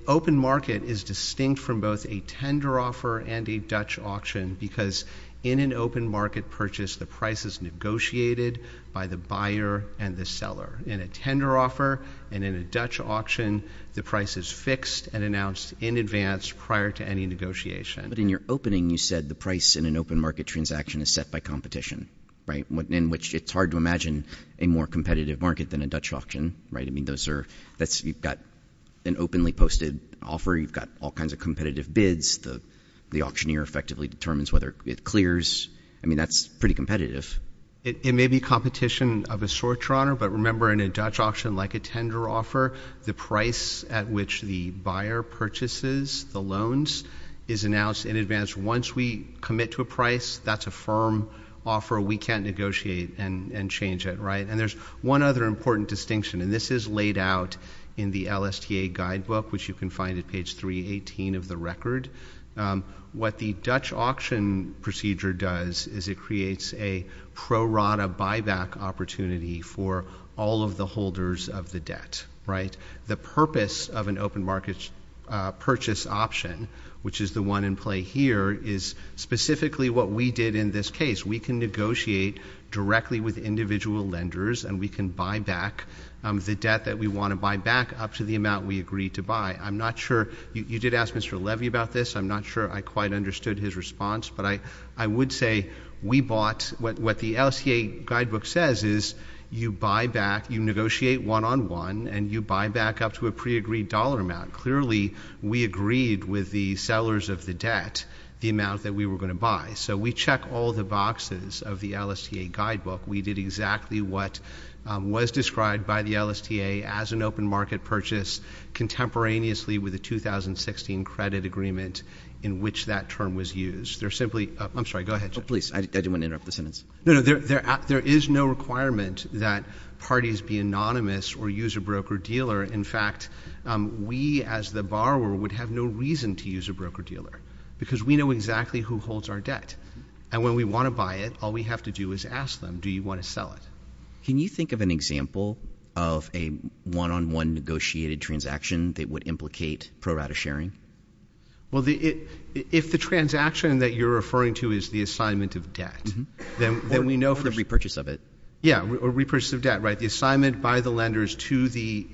open market is distinct from both a tender offer and a Dutch auction because in an open market purchase, the price is negotiated by the buyer and the seller. In a tender offer and in a Dutch auction, the price is fixed and announced in advance prior to any negotiation. But in your opening, you said the price in an open market transaction is set by competition, right, in which it's hard to imagine a more competitive market than a Dutch auction, right? I mean, you've got an openly posted offer. You've got all kinds of competitive bids. The auctioneer effectively determines whether it clears. I mean, that's pretty competitive. It may be competition of a sort, Ron, but remember in a Dutch auction like a tender offer, the price at which the buyer purchases the loans is announced in advance. Once we commit to a price, that's a firm offer. We can't negotiate and change it, right? And there's one other important distinction, and this is laid out in the LSTA guidebook, which you can find at page 318 of the record. What the Dutch auction procedure does is it creates a pro rata buyback opportunity for all of the holders of the debt, right? The purpose of an open market purchase option, which is the one in play here, is specifically what we did in this case. We can negotiate directly with individual lenders, and we can buy back the debt that we want to buy back up to the amount we agreed to buy. I'm not sure — you did ask Mr. Levy about this. I'm not sure I quite understood his response, but I would say we bought — what the LSTA guidebook says is you buy back, you negotiate one-on-one, and you buy back up to a pre-agreed dollar amount. Clearly, we agreed with the sellers of the debt the amount that we were going to buy. So we checked all the boxes of the LSTA guidebook. We did exactly what was described by the LSTA as an open market purchase contemporaneously with the 2016 credit agreement in which that term was used. There's simply — I'm sorry, go ahead. Oh, please, I didn't want to interrupt the sentence. No, no, there is no requirement that parties be anonymous or use a broker-dealer. In fact, we as the borrower would have no reason to use a broker-dealer because we know exactly who holds our debt. And when we want to buy it, all we have to do is ask them, do you want to sell it? Can you think of an example of a one-on-one negotiated transaction that would implicate pro-rata sharing? Well, if the transaction that you're referring to is the assignment of debt, then we know — Or repurchase of it. Yeah, or repurchase of debt, right, the assignment by the lenders to the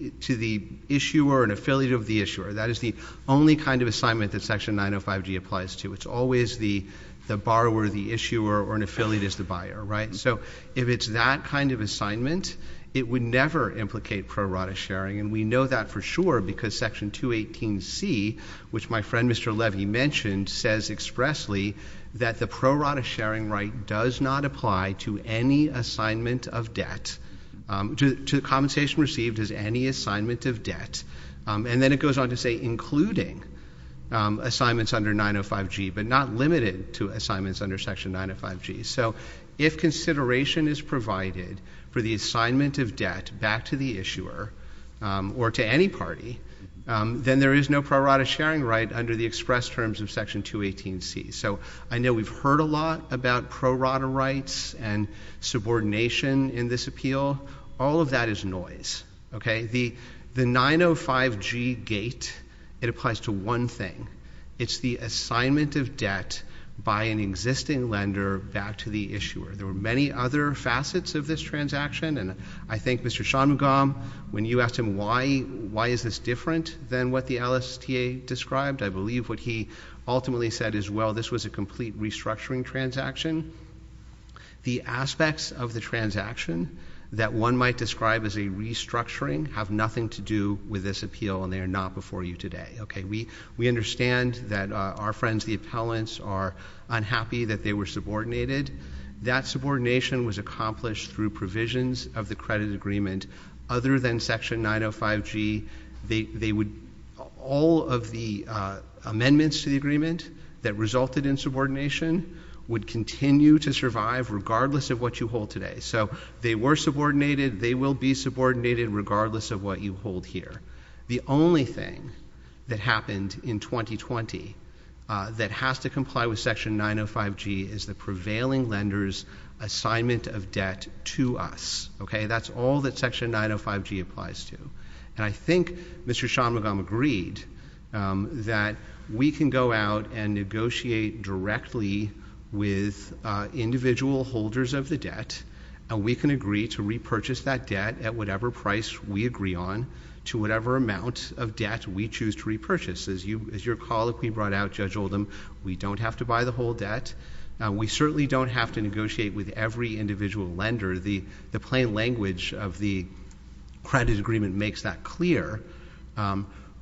issuer or an affiliate of the issuer. That is the only kind of assignment that Section 905G applies to. It's always the borrower, the issuer, or an affiliate is the buyer, right? So if it's that kind of assignment, it would never implicate pro-rata sharing. And we know that for sure because Section 218C, which my friend Mr. Levy mentioned, says expressly that the pro-rata sharing right does not apply to any assignment of debt — to the compensation received as any assignment of debt. And then it goes on to say including assignments under 905G, but not limited to assignments under Section 905G. So if consideration is provided for the assignment of debt back to the issuer or to any party, then there is no pro-rata sharing right under the express terms of Section 218C. So I know we've heard a lot about pro-rata rights and subordination in this appeal. All of that is noise, okay? The 905G gate, it applies to one thing. It's the assignment of debt by an existing lender back to the issuer. There are many other facets of this transaction. And I think Mr. Shamugam, when you asked him why is this different than what the LSTA described, I believe what he ultimately said is, well, this was a complete restructuring transaction. The aspects of the transaction that one might describe as a restructuring have nothing to do with this appeal, and they are not before you today, okay? We understand that our friends, the appellants, are unhappy that they were subordinated. That subordination was accomplished through provisions of the credit agreement. Other than Section 905G, all of the amendments to the agreement that resulted in subordination would continue to survive regardless of what you hold today. So they were subordinated, they will be subordinated regardless of what you hold here. The only thing that happened in 2020 that has to comply with Section 905G is the prevailing lender's assignment of debt to us, okay? That's all that Section 905G applies to. And I think Mr. Shamugam agreed that we can go out and negotiate directly with individual holders of the debt, and we can agree to repurchase that debt at whatever price we agree on to whatever amount of debt we choose to repurchase. As your colleague we brought out, Judge Oldham, we don't have to buy the whole debt. We certainly don't have to negotiate with every individual lender. The plain language of the credit agreement makes that clear.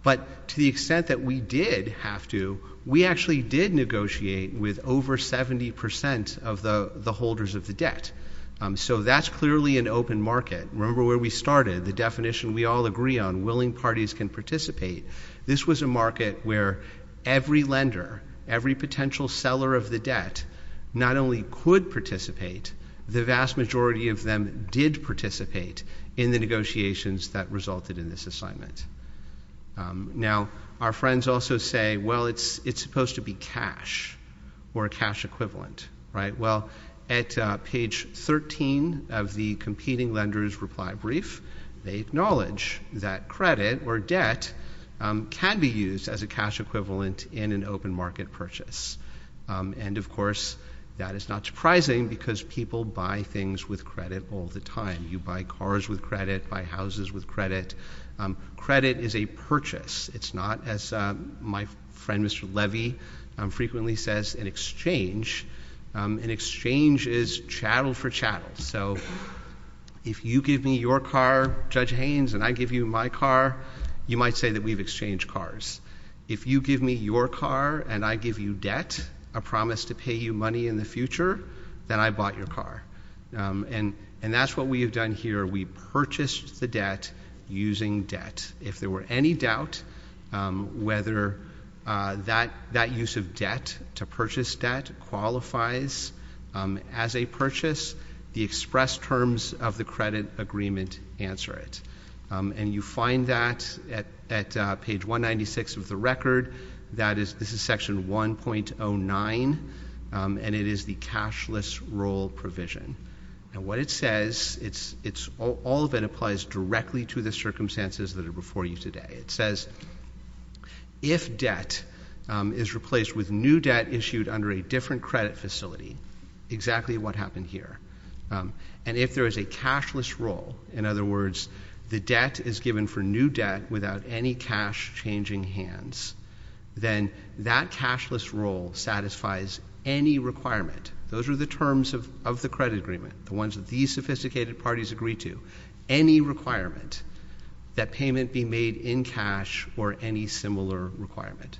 But to the extent that we did have to, we actually did negotiate with over 70 percent of the holders of the debt. So that's clearly an open market. Remember where we started, the definition we all agree on, willing parties can participate. This was a market where every lender, every potential seller of the debt, not only could participate, the vast majority of them did participate in the negotiations that resulted in this assignment. Now, our friends also say, well, it's supposed to be cash or a cash equivalent, right? Well, at page 13 of the competing lenders' reply brief, they acknowledge that credit or debt can be used as a cash equivalent in an open market purchase. And, of course, that is not surprising because people buy things with credit all the time. You buy cars with credit, buy houses with credit. Credit is a purchase. It's not, as my friend Mr. Levy frequently says, an exchange. An exchange is chattel for chattel. So if you give me your car, Judge Haynes, and I give you my car, you might say that we've exchanged cars. If you give me your car and I give you debt, a promise to pay you money in the future, then I bought your car. And that's what we have done here. We purchased the debt using debt. If there were any doubt whether that use of debt to purchase debt qualifies as a purchase, the express terms of the credit agreement answer it. And you find that at page 196 of the record. This is section 1.09, and it is the cashless roll provision. And what it says, it's all that applies directly to the circumstances that are before you today. It says if debt is replaced with new debt issued under a different credit facility, exactly what happened here. And if there is a cashless roll, in other words, the debt is given for new debt without any cash changing hands, then that cashless roll satisfies any requirement. Those are the terms of the credit agreement, the ones that these sophisticated parties agree to. Any requirement that payment be made in cash or any similar requirement.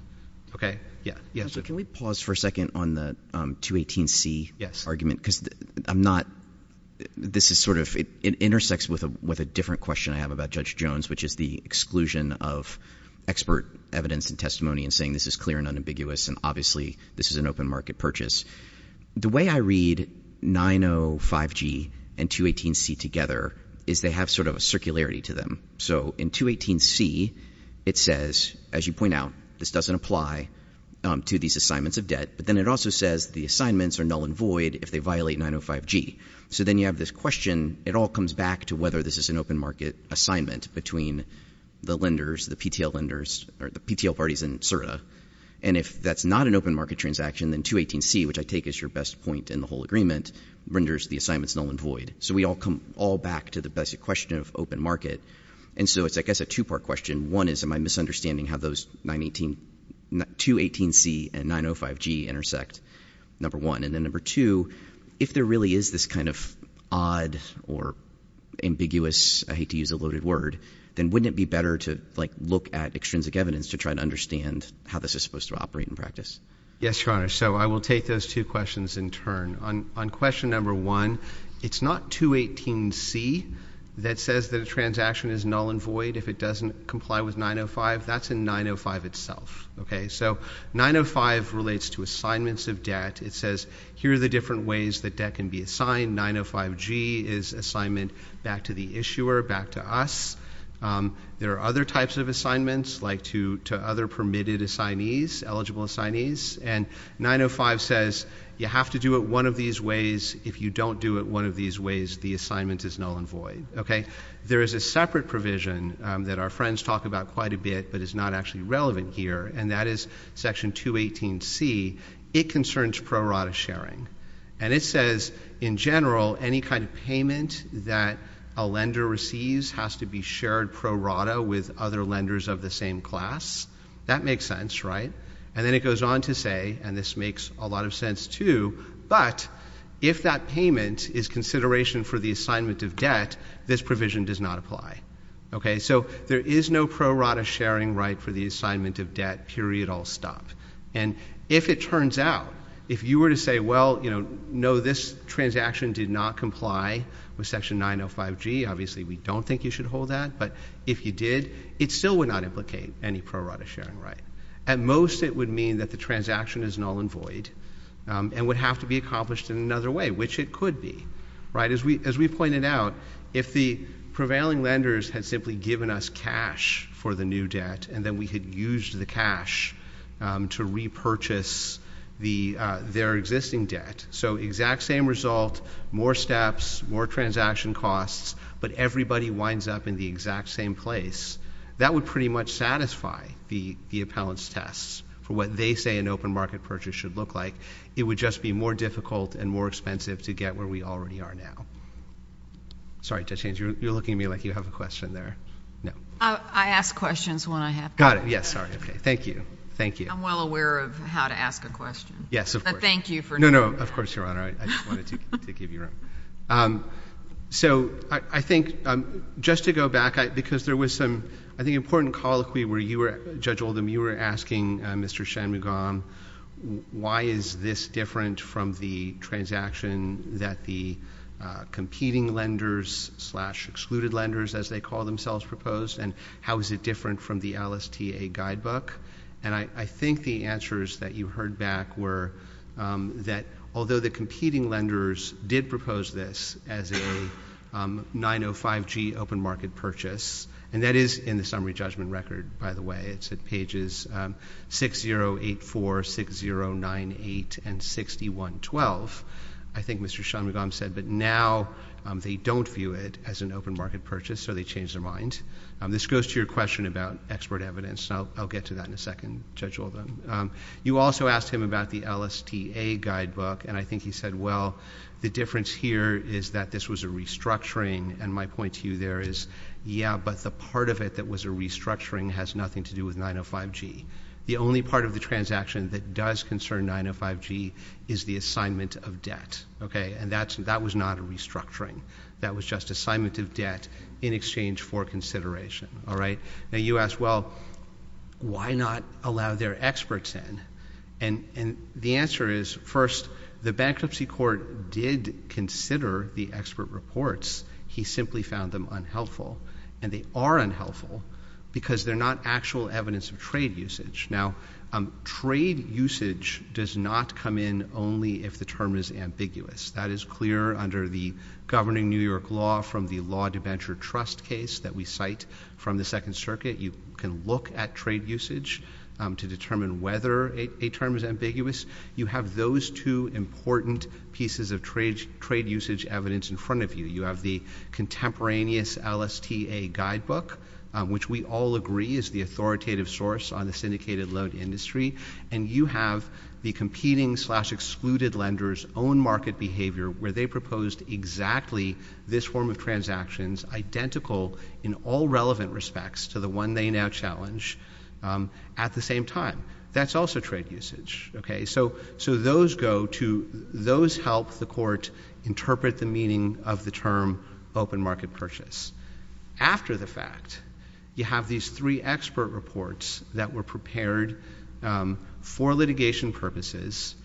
Okay? Yeah. Can we pause for a second on the 218C argument? Because I'm not – this is sort of – it intersects with a different question I have about Judge Jones, which is the exclusion of expert evidence and testimony in saying this is clear and unambiguous and obviously this is an open market purchase. The way I read 905G and 218C together is they have sort of a circularity to them. So in 218C, it says, as you point out, this doesn't apply to these assignments of debt. But then it also says the assignments are null and void if they violate 905G. So then you have this question. It all comes back to whether this is an open market assignment between the lenders, the PTL lenders, or the PTL parties in CERTA. And if that's not an open market transaction, then 218C, which I take as your best point in the whole agreement, renders the assignments null and void. So we all come all back to the basic question of open market. And so it's, I guess, a two-part question. One is am I misunderstanding how those 218C and 905G intersect, number one. And then number two, if there really is this kind of odd or ambiguous, I hate to use a loaded word, then wouldn't it be better to look at extrinsic evidence to try to understand how this is supposed to operate in practice? Yes, Your Honor. So I will take those two questions in turn. On question number one, it's not 218C that says the transaction is null and void if it doesn't comply with 905. That's in 905 itself. So 905 relates to assignments of debt. It says here are the different ways that debt can be assigned. 905G is assignment back to the issuer, back to us. There are other types of assignments, like to other permitted assignees, eligible assignees. And 905 says you have to do it one of these ways. If you don't do it one of these ways, the assignment is null and void. There is a separate provision that our friends talk about quite a bit but is not actually relevant here, and that is section 218C. It concerns pro rata sharing. And it says in general any kind of payment that a lender receives has to be shared pro rata with other lenders of the same class. That makes sense, right? And then it goes on to say, and this makes a lot of sense too, but if that payment is consideration for the assignment of debt, this provision does not apply. So there is no pro rata sharing right for the assignment of debt, period, all stop. And if it turns out, if you were to say, well, you know, no, this transaction did not comply with section 905G, obviously we don't think you should hold that, but if you did, it still would not implicate any pro rata sharing right. At most it would mean that the transaction is null and void and would have to be accomplished in another way, which it could be. As we pointed out, if the prevailing lenders had simply given us cash for the new debt and then we had used the cash to repurchase their existing debt, so exact same result, more steps, more transaction costs, but everybody winds up in the exact same place, that would pretty much satisfy the appellant's tests for what they say an open market purchase should look like. It would just be more difficult and more expensive to get where we already are now. Sorry, Judge Haynes, you're looking at me like you have a question there. No. I ask questions when I have them. Got it. Yes. All right. Okay. Thank you. Thank you. I'm well aware of how to ask a question. Yes, of course. But thank you for doing that. No, no. Of course, Your Honor. I just wanted to give you room. So I think just to go back, because there was some, I think, important colloquy where you were, Judge Oldham, you were asking Mr. Shanmugam why is this different from the transaction that the competing lenders slash excluded lenders, as they call themselves, proposed, and how is it different from the LSTA guidebook? And I think the answers that you heard back were that although the competing lenders did propose this as a 905G open market purchase, and that is in the summary judgment record, by the way. It's at pages 6084, 6098, and 6112. I think Mr. Shanmugam said that now they don't view it as an open market purchase, so they changed their mind. This goes to your question about expert evidence, so I'll get to that in a second, Judge Oldham. You also asked him about the LSTA guidebook, and I think he said, well, the difference here is that this was a restructuring, and my point to you there is, yeah, but the part of it that was a restructuring has nothing to do with 905G. The only part of the transaction that does concern 905G is the assignment of debt, okay? And that was not a restructuring. That was just assignment of debt in exchange for consideration, all right? Now, you asked, well, why not allow their experts in? And the answer is, first, the bankruptcy court did consider the expert reports. He simply found them unhelpful, and they are unhelpful because they're not actual evidence of trade usage. Now, trade usage does not come in only if the term is ambiguous. That is clear under the governing New York law from the Law to Venture Trust case that we cite from the Second Circuit. You can look at trade usage to determine whether a term is ambiguous. You have those two important pieces of trade usage evidence in front of you. You have the contemporaneous LSTA guidebook, which we all agree is the authoritative source on the syndicated loan industry, and you have the competing-slash-excluded lenders' own market behavior, where they proposed exactly this form of transactions, identical in all relevant respects to the one they now challenge, at the same time. That's also trade usage, okay? So those help the court interpret the meaning of the term open market purchase. After the fact, you have these three expert reports that were prepared for litigation purposes.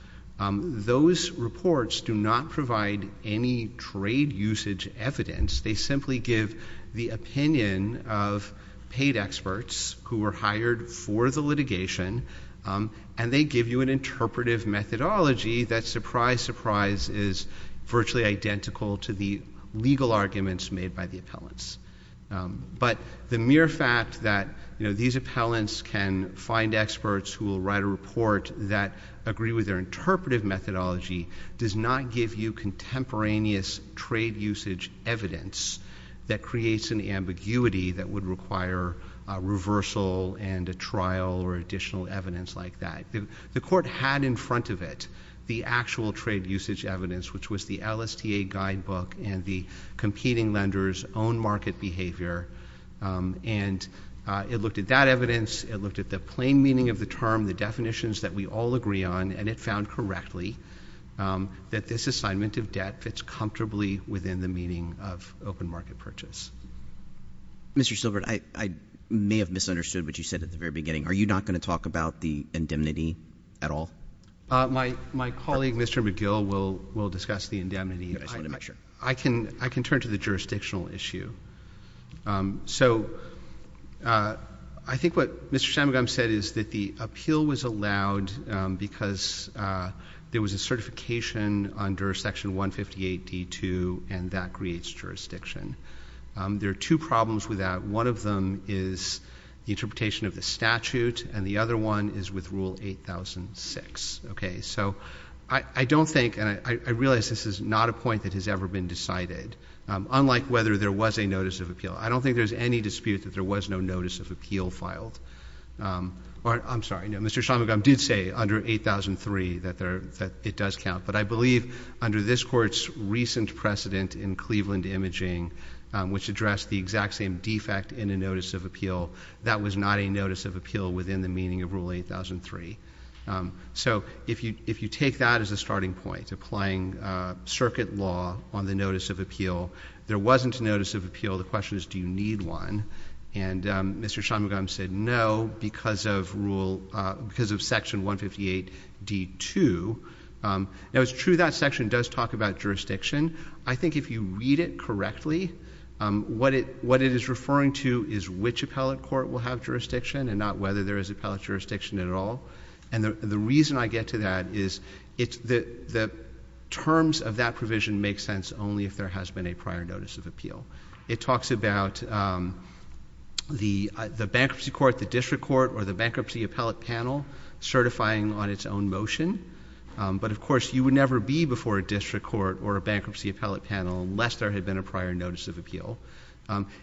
Those reports do not provide any trade usage evidence. They simply give the opinion of paid experts who were hired for the litigation, and they give you an interpretive methodology that, surprise, surprise, is virtually identical to the legal arguments made by the appellants. But the mere fact that these appellants can find experts who will write a report that agree with their interpretive methodology does not give you contemporaneous trade usage evidence that creates an ambiguity that would require a reversal and a trial or additional evidence like that. The court had in front of it the actual trade usage evidence, which was the LSTA guidebook and the competing lenders' own market behavior, and it looked at that evidence, it looked at the plain meaning of the term, the definitions that we all agree on, and it found correctly that this assignment of debt fits comfortably within the meaning of open market purchase. Mr. Silbert, I may have misunderstood what you said at the very beginning. Are you not going to talk about the indemnity at all? My colleague, Mr. McGill, will discuss the indemnity. I can turn to the jurisdictional issue. So I think what Mr. Samugam said is that the appeal was allowed because there was a certification under Section 158D2, and that creates jurisdiction. There are two problems with that. One of them is the interpretation of the statute, and the other one is with Rule 8006. Okay. So I don't think, and I realize this is not a point that has ever been decided, unlike whether there was a notice of appeal. I don't think there's any dispute that there was no notice of appeal filed. I'm sorry. Mr. Samugam did say under 8003 that it does count, but I believe under this Court's recent precedent in Cleveland imaging, which addressed the exact same defect in the notice of appeal, that was not a notice of appeal within the meaning of Rule 8003. So if you take that as a starting point, applying circuit law on the notice of appeal, there wasn't a notice of appeal. The question is, do you need one? And Mr. Samugam said no because of Rule, because of Section 158D2. Now, it's true that section does talk about jurisdiction. I think if you read it correctly, what it is referring to is which appellate court will have jurisdiction and not whether there is appellate jurisdiction at all. And the reason I get to that is the terms of that provision make sense only if there has been a prior notice of appeal. It talks about the bankruptcy court, the district court, or the bankruptcy appellate panel certifying on its own motion. But, of course, you would never be before a district court or a bankruptcy appellate panel unless there had been a prior notice of appeal.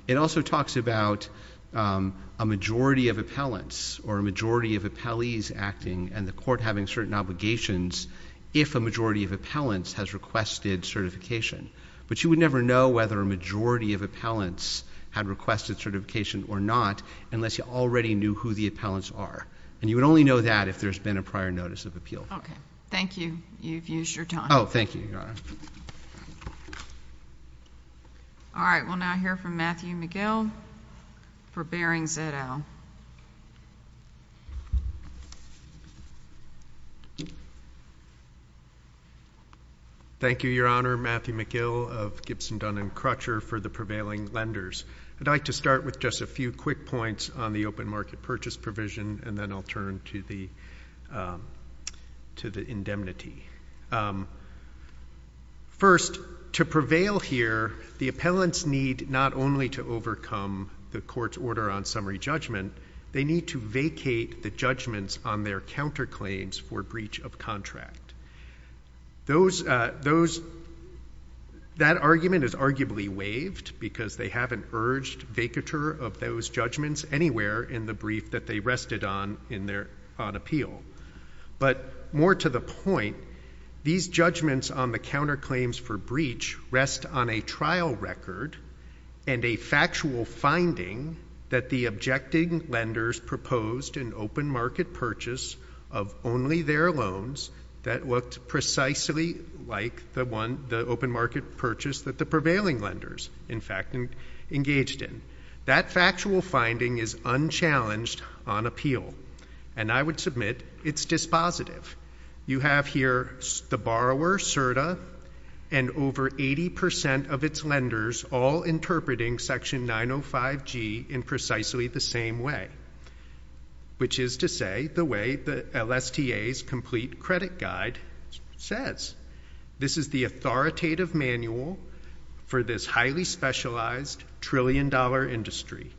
It also talks about a majority of appellants or a majority of appellees acting and the court having certain obligations if a majority of appellants has requested certification. But you would never know whether a majority of appellants had requested certification or not unless you already knew who the appellants are. And you would only know that if there's been a prior notice of appeal. Okay. Thank you. You've used your time. Oh, thank you, Your Honor. All right. We'll now hear from Matthew McGill for Bering Veto. Thank you, Your Honor. Matthew McGill of Gibson, Dunn & Crutcher for the prevailing lenders. I'd like to start with just a few quick points on the open market purchase provision and then I'll turn to the indemnity. First, to prevail here, the appellants need not only to overcome the court's order on summary judgment, they need to vacate the judgments on their counterclaims for breach of contract. That argument is arguably waived because they haven't urged vacature of those judgments anywhere in the brief that they rested on in their appeal. But more to the point, these judgments on the counterclaims for breach rest on a trial record and a factual finding that the objecting lenders proposed an open market purchase of only their loans that looked precisely like the open market purchase that the prevailing lenders, in fact, engaged in. That factual finding is unchallenged on appeal and I would submit it's dispositive. You have here the borrower, CERTA, and over 80% of its lenders all interpreting Section 905G in precisely the same way, which is to say the way the LSTA's complete credit guide says. This is the authoritative manual for this highly specialized trillion dollar industry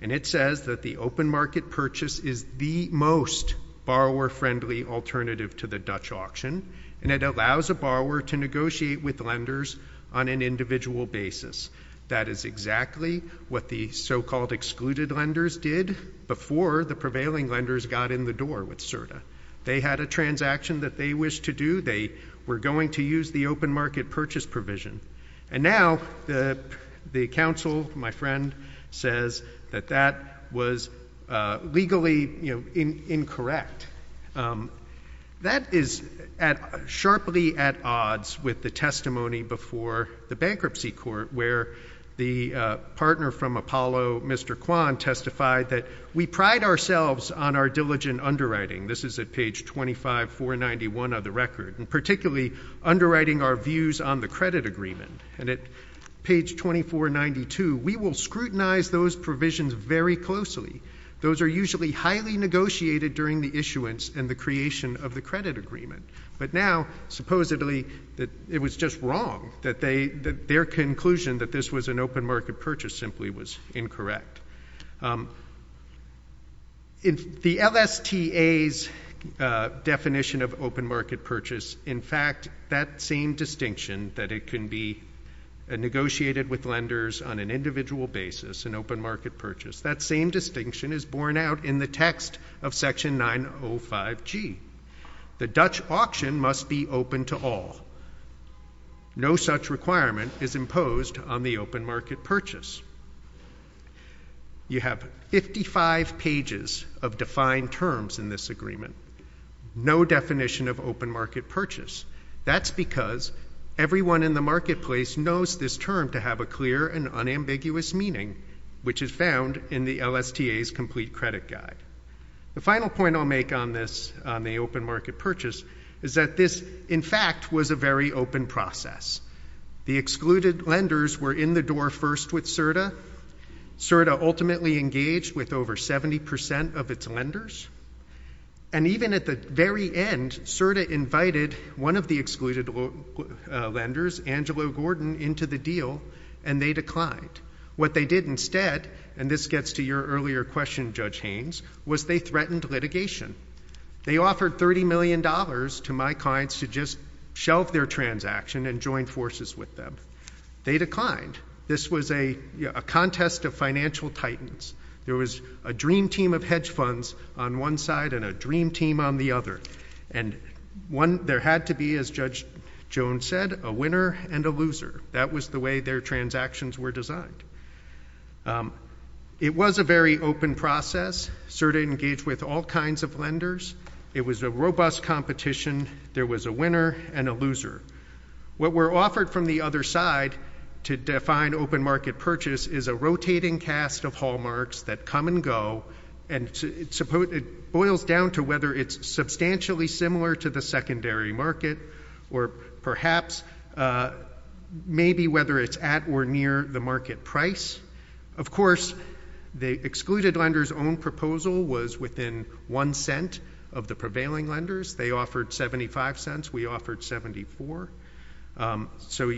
and it says that the open market purchase is the most borrower-friendly alternative to the Dutch auction and it allows a borrower to negotiate with lenders on an individual basis. That is exactly what the so-called excluded lenders did before the prevailing lenders got in the door with CERTA. They had a transaction that they wished to do. They were going to use the open market purchase provision. And now the counsel, my friend, says that that was legally incorrect. That is sharply at odds with the testimony before the bankruptcy court where the partner from Apollo, Mr. Kwan, testified that we pride ourselves on our diligent underwriting. This is at page 25491 of the record, and particularly underwriting our views on the credit agreement. And at page 2492, we will scrutinize those provisions very closely. Those are usually highly negotiated during the issuance and the creation of the credit agreement. But now, supposedly, it was just wrong that their conclusion that this was an open market purchase simply was incorrect. In the LSTA's definition of open market purchase, in fact, that same distinction that it can be negotiated with lenders on an individual basis, an open market purchase, that same distinction is borne out in the text of section 905G. The Dutch auction must be open to all. No such requirement is imposed on the open market purchase. You have 55 pages of defined terms in this agreement. No definition of open market purchase. That's because everyone in the marketplace knows this term to have a clear and unambiguous meaning, which is found in the LSTA's complete credit guide. The final point I'll make on this, on the open market purchase, is that this, in fact, was a very open process. The excluded lenders were in the door first with CERTA. CERTA ultimately engaged with over 70% of its lenders. And even at the very end, CERTA invited one of the excluded lenders, Angelo Gordon, into the deal, and they declined. What they did instead, and this gets to your earlier question, Judge Haynes, was they threatened litigation. They offered $30 million to my clients to just shelve their transaction and join forces with them. They declined. This was a contest of financial titans. There was a dream team of hedge funds on one side and a dream team on the other. And there had to be, as Judge Jones said, a winner and a loser. That was the way their transactions were designed. It was a very open process. CERTA engaged with all kinds of lenders. It was a robust competition. There was a winner and a loser. What were offered from the other side to define open market purchase is a rotating cast of hallmarks that come and go, and it boils down to whether it's substantially similar to the secondary market or perhaps maybe whether it's at or near the market price. Of course, the excluded lenders' own proposal was within one cent of the prevailing lenders. They offered 75 cents. We offered 74. So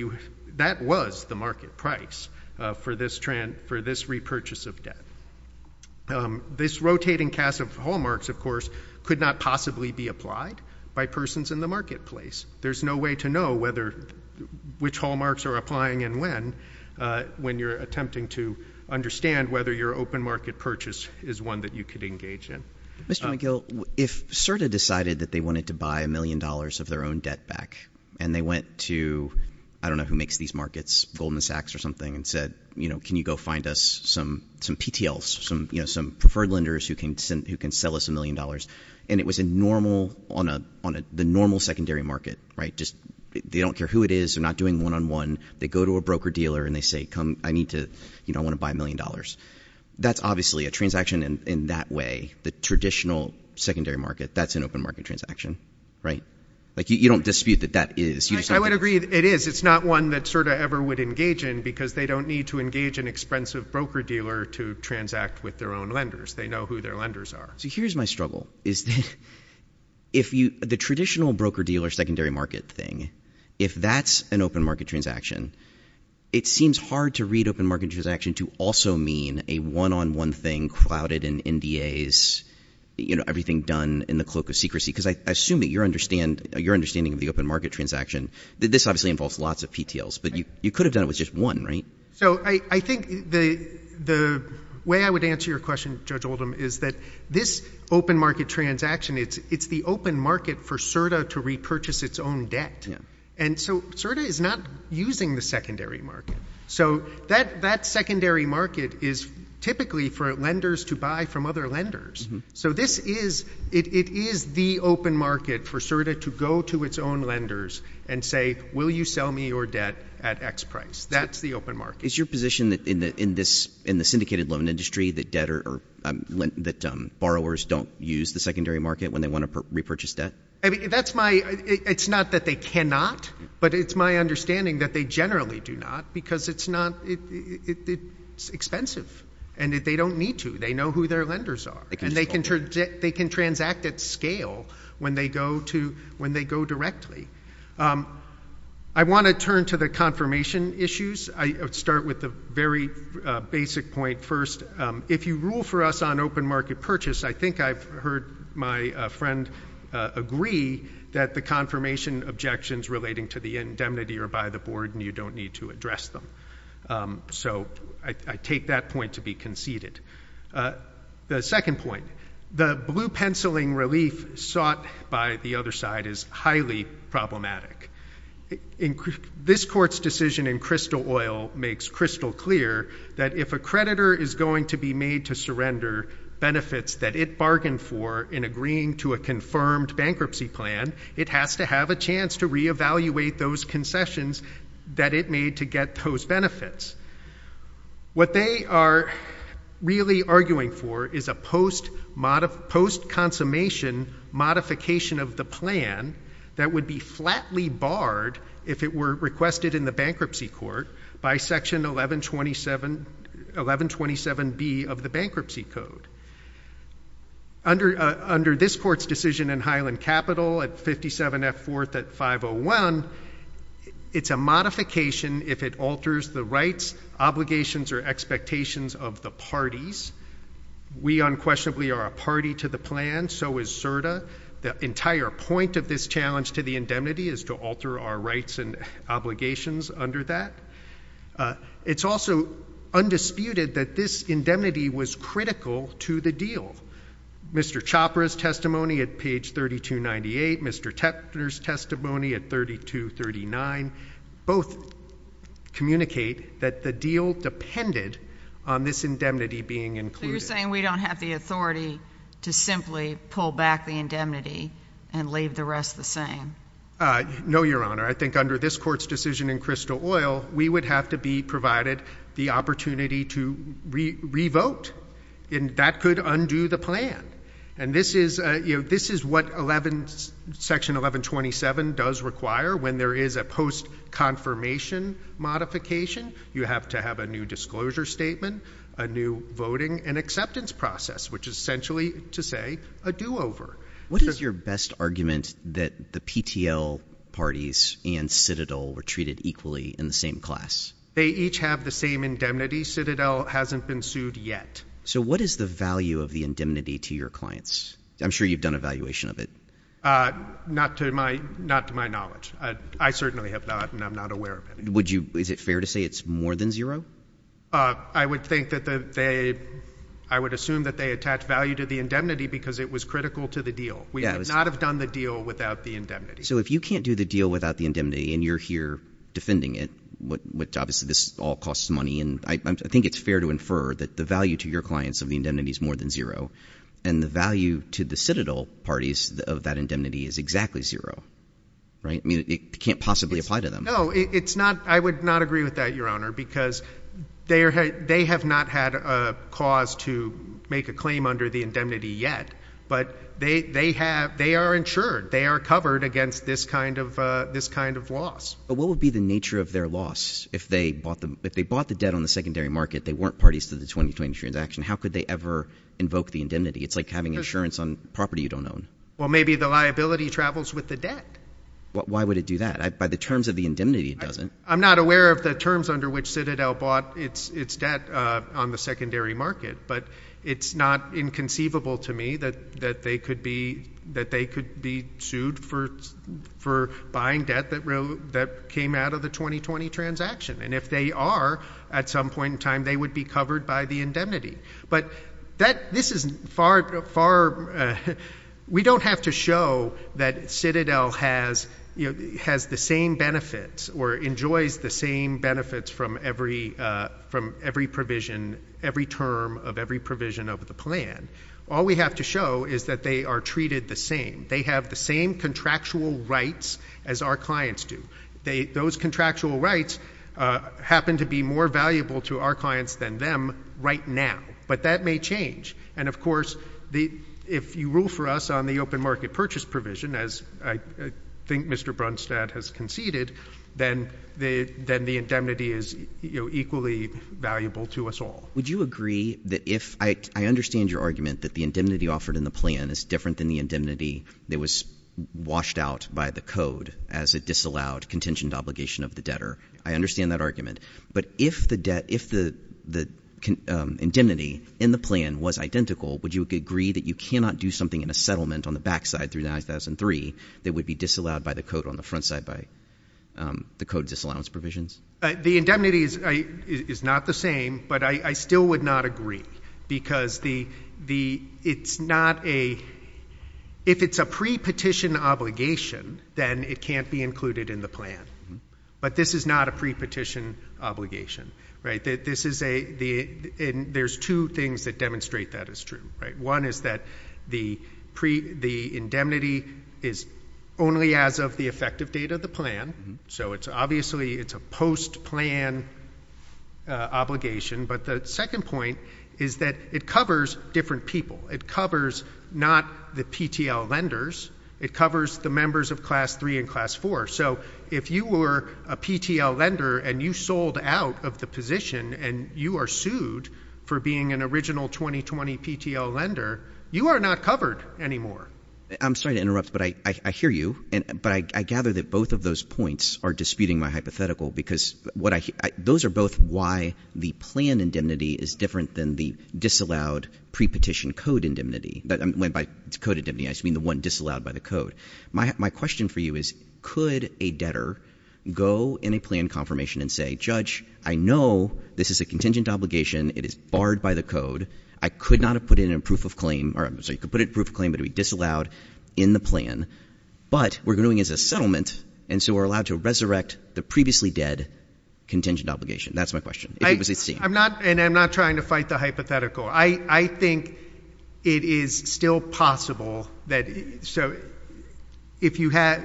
that was the market price for this repurchase of debt. This rotating cast of hallmarks, of course, could not possibly be applied by persons in the marketplace. There's no way to know which hallmarks are applying and when when you're attempting to understand whether your open market purchase is one that you could engage in. Mr. McGill, if CERTA decided that they wanted to buy a million dollars of their own debt back and they went to, I don't know who makes these markets, Goldman Sachs or something, and said, you know, can you go find us some TTLs, some preferred lenders who can sell us a million dollars, and it was on the normal secondary market, right? They don't care who it is. They're not doing one-on-one. They go to a broker-dealer and they say, I want to buy a million dollars. That's obviously a transaction in that way. The traditional secondary market, that's an open market transaction, right? Like, you don't dispute that that is. I would agree it is. It's not one that CERTA ever would engage in because they don't need to engage an expensive broker-dealer to transact with their own lenders. They know who their lenders are. So here's my struggle. The traditional broker-dealer secondary market thing, if that's an open market transaction, it seems hard to read open market transaction to also mean a one-on-one thing clouded in NDAs, you know, everything done in the cloak of secrecy, because I assume that you're understanding the open market transaction. This obviously involves lots of TTLs, but you could have done it with just one, right? So I think the way I would answer your question, Judge Oldham, is that this open market transaction, it's the open market for CERTA to repurchase its own debt. And so CERTA is not using the secondary market. So that secondary market is typically for lenders to buy from other lenders. So this is, it is the open market for CERTA to go to its own lenders and say, will you sell me your debt at X price? That's the open market. Is your position in the syndicated loan industry that debt or that borrowers don't use the secondary market when they want to repurchase debt? That's my, it's not that they cannot, but it's my understanding that they generally do not because it's not, it's expensive. And they don't need to. They know who their lenders are. And they can transact at scale when they go to, when they go directly. I want to turn to the confirmation issues. I'll start with the very basic point first. If you rule for us on open market purchase, I think I've heard my friend agree that the confirmation objections relating to the indemnity are by the board and you don't need to address them. So I take that point to be conceded. The second point, the blue penciling relief sought by the other side is highly problematic. This court's decision in Crystal Oil makes crystal clear that if a creditor is going to be made to surrender benefits that it bargained for in agreeing to a confirmed bankruptcy plan, it has to have a chance to reevaluate those concessions that it made to get those benefits. What they are really arguing for is a post-consummation modification of the plan that would be flatly barred if it were requested in the bankruptcy court by section 1127B of the bankruptcy code. Under this court's decision in Highland Capital at 57F 4th at 501, it's a modification if it alters the rights, obligations, or expectations of the parties. We unquestionably are a party to the plan, so is CERDA. The entire point of this challenge to the indemnity is to alter our rights and obligations under that. It's also undisputed that this indemnity was critical to the deal. Mr. Chopra's testimony at page 3298, Mr. Tetler's testimony at page 3239, both communicate that the deal depended on this indemnity being included. So you're saying we don't have the authority to simply pull back the indemnity and leave the rest the same? No, Your Honor. I think under this court's decision in Crystal Oil, we would have to be provided the opportunity to re-vote, and that could undo the plan. And this is what section 1127 does require when there is a post-confirmation modification. You have to have a new disclosure statement, a new voting and acceptance process, which is essentially, to say, a do-over. What is your best argument that the PTL parties and Citadel were treated equally in the same class? They each have the same indemnity. Citadel hasn't been sued yet. So what is the value of the indemnity to your clients? I'm sure you've done evaluation of it. Not to my knowledge. I certainly have not, and I'm not aware of it. Is it fair to say it's more than zero? I would assume that they attach value to the indemnity because it was critical to the deal. We would not have done the deal without the indemnity. So if you can't do the deal without the indemnity and you're here defending it, which obviously this all costs money, and I think it's fair to infer that the value to your clients of the indemnity is more than zero, then the value to the Citadel parties of that indemnity is exactly zero, right? I mean, it can't possibly apply to them. No, it's not. I would not agree with that, Your Honor, because they have not had a cause to make a claim under the indemnity yet, but they are insured. They are covered against this kind of loss. But what would be the nature of their loss if they bought the debt on the secondary market, they weren't parties to the 2020 transaction, how could they ever invoke the indemnity? It's like having insurance on property you don't own. Well, maybe the liability travels with the debt. Why would it do that? By the terms of the indemnity, it doesn't. I'm not aware of the terms under which Citadel bought its debt on the secondary market, but it's not inconceivable to me that they could be sued for buying debt that came out of the 2020 transaction. And if they are, at some point in time, they would be covered by the indemnity. But this is far... We don't have to show that Citadel has the same benefits or enjoys the same benefits from every provision, every term of every provision of the plan. All we have to show is that they are treated the same. They have the same contractual rights as our clients do. Those contractual rights happen to be more valuable to our clients than them right now. But that may change. And of course, if you rule for us on the open market purchase provision, as I think Mr. Brunstad has conceded, then the indemnity is equally valuable to us all. Would you agree that if... I understand your argument that the indemnity offered in the plan is different than the indemnity that was washed out by the code as a disallowed contingent obligation of the debtor. I understand that argument. But if the indemnity in the plan was identical, would you agree that you cannot do something in a settlement on the backside through 2003 that would be disallowed by the code on the front side by the code disallowance provisions? The indemnity is not the same, but I still would not agree. Because it's not a... If it's a pre-petition obligation, then it can't be included in the plan. But this is not a pre-petition obligation. This is a... There's two things that demonstrate that is true. One is that the indemnity is only as of the effective date of the plan. So it's obviously... It's a post-plan obligation. But the second point is that it covers different people. It covers not the PTL lenders. It covers the members of Class 3 and Class 4. So if you were a PTL lender and you sold out of the position and you are sued for being an original 2020 PTL lender, you are not covered anymore. I'm sorry to interrupt, but I hear you. But I gather that both of those points are disputing my hypothetical, because those are both why the plan indemnity is different than the disallowed pre-petition code indemnity. By code indemnity, I just mean the one disallowed by the code. My question for you is, could a debtor go in a plan confirmation and say, Judge, I know this is a contingent obligation. It is barred by the code. I could not have put it in proof of claim. So you could put it in proof of claim, but it would be disallowed in the plan. But we're doing it as a settlement, and so we're allowed to resurrect the previously dead contingent obligation. That's my question. I'm not trying to fight the hypothetical. I think it is still possible that... So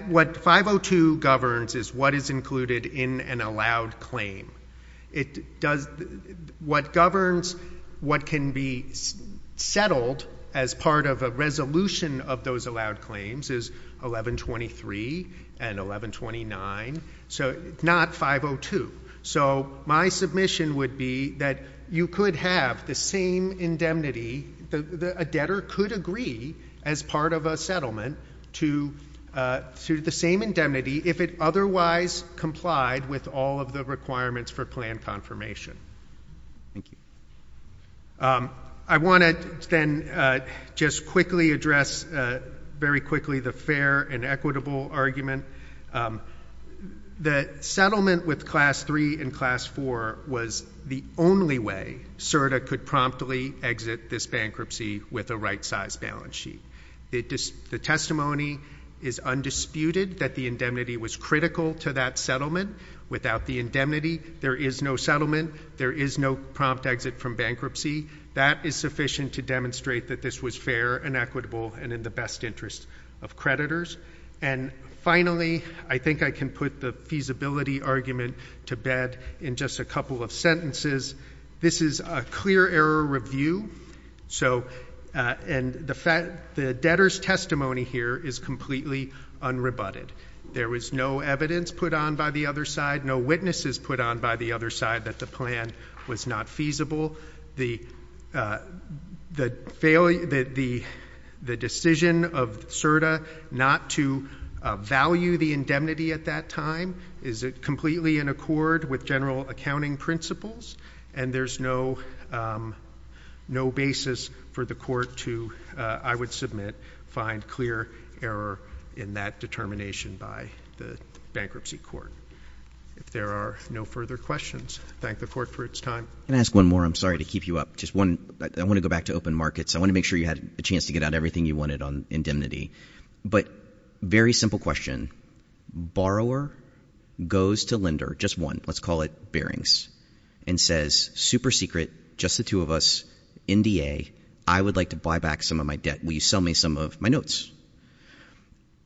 what 502 governs is what is included in an allowed claim. What governs what can be settled as part of a resolution of those allowed claims is 1123 and 1129, so not 502. So my submission would be that you could have the same indemnity, a debtor could agree as part of a settlement to the same indemnity if it otherwise complied with all of the requirements for plan confirmation. Thank you. I want to then just quickly address, very quickly, the fair and equitable argument that settlement with Class III and Class IV was the only way CERDA could promptly exit this bankruptcy with a right-size balance sheet. The testimony is undisputed that the indemnity was critical to that settlement. Without the indemnity, there is no settlement. There is no prompt exit from bankruptcy. That is sufficient to demonstrate that this was fair and equitable and in the best interest of creditors. And, finally, I think I can put the feasibility argument to bed in just a couple of sentences. This is a clear error review, and the debtor's testimony here is completely unrebutted. There was no evidence put on by the other side, no witnesses put on by the other side that the plan was not feasible. The decision of CERDA not to value the indemnity at that time, is it completely in accord with general accounting principles? And there's no basis for the Court to, I would submit, find clear error in that determination by the Bankruptcy Court. If there are no further questions, I thank the Court for its time. I'm going to ask one more. I'm sorry to keep you up. I want to go back to open markets. I want to make sure you had a chance to get out everything you wanted on indemnity. But, very simple question, borrower goes to lender, just one, let's call it bearings, and says, super secret, just the two of us, NDA, I would like to buy back some of my debt. Will you sell me some of my notes?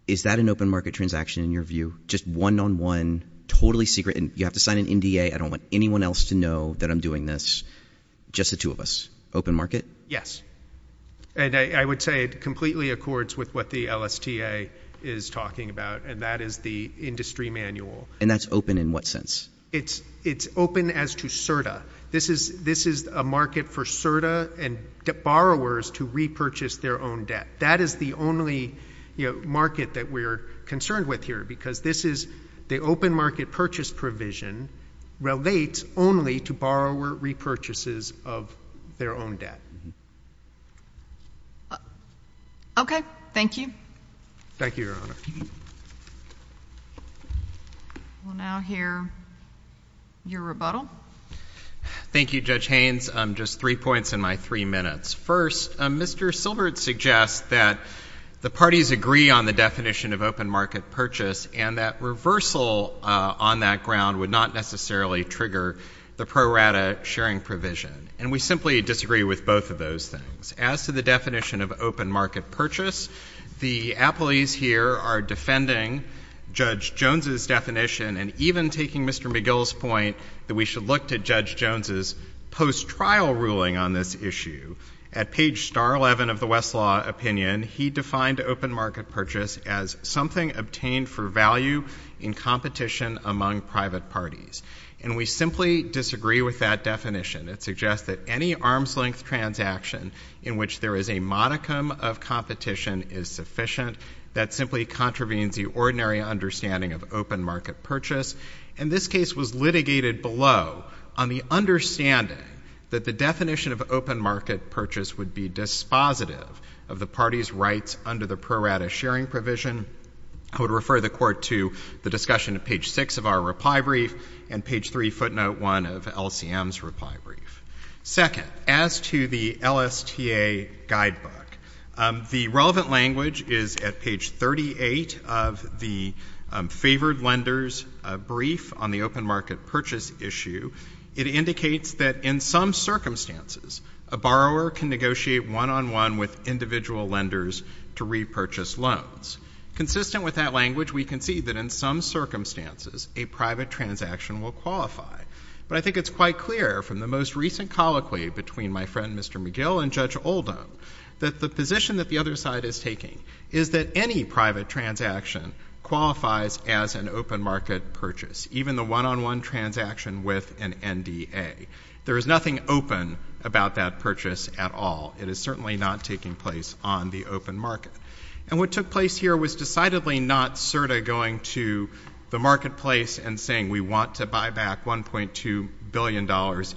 Is that an open market transaction in your view? Just one-on-one, totally secret, and you have to sign an NDA. I don't want anyone else to know that I'm doing this. Just the two of us. Open market? And I would say it completely accords with what the LSTA is talking about, and that is the industry manual. And that's open in what sense? It's open as to CERTA. This is a market for CERTA and borrowers to repurchase their own debt. That is the only market that we're concerned with here because this is the open market purchase provision relates only to borrower repurchases of their own debt. Okay. Thank you. Thank you, Your Honor. We'll now hear your rebuttal. Thank you, Judge Haynes. Just three points in my three minutes. First, Mr. Silbert suggests that the parties agree on the definition of open market purchase and that reversal on that ground would not necessarily trigger the pro rata sharing provision. And we simply disagree with both of those things. As to the definition of open market purchase, the appellees here are defending Judge Jones's definition and even taking Mr. McGill's point that we should look to Judge Jones's post-trial ruling on this issue. At page star 11 of the Westlaw opinion, he defined open market purchase as something obtained for value in competition among private parties. And we simply disagree with that definition. It suggests that any arm's-length transaction in which there is a modicum of competition is sufficient. That simply contravenes the ordinary understanding of open market purchase. And this case was litigated below on the understanding that the definition of open market purchase would be dispositive of the parties' rights under the pro rata sharing provision. I would refer the Court to the discussion at page 6 of our reply brief and page 3 footnote 1 of LCM's reply brief. Second, as to the LSTA guidebook, the relevant language is at page 38 of the favored lenders' brief on the open market purchase issue. It indicates that in some circumstances a borrower can negotiate one-on-one with individual lenders to repurchase loans. Consistent with that language, we can see that in some circumstances a private transaction will qualify. But I think it's quite clear from the most recent colloquy between my friend Mr. McGill and Judge Oldham that the position that the other side is taking is that any private transaction qualifies as an open market purchase, even the one-on-one transaction with an NDA. There is nothing open about that purchase at all. It is certainly not taking place on the open market. And what took place here was decidedly not CERTA going to the marketplace and saying we want to buy back $1.2 billion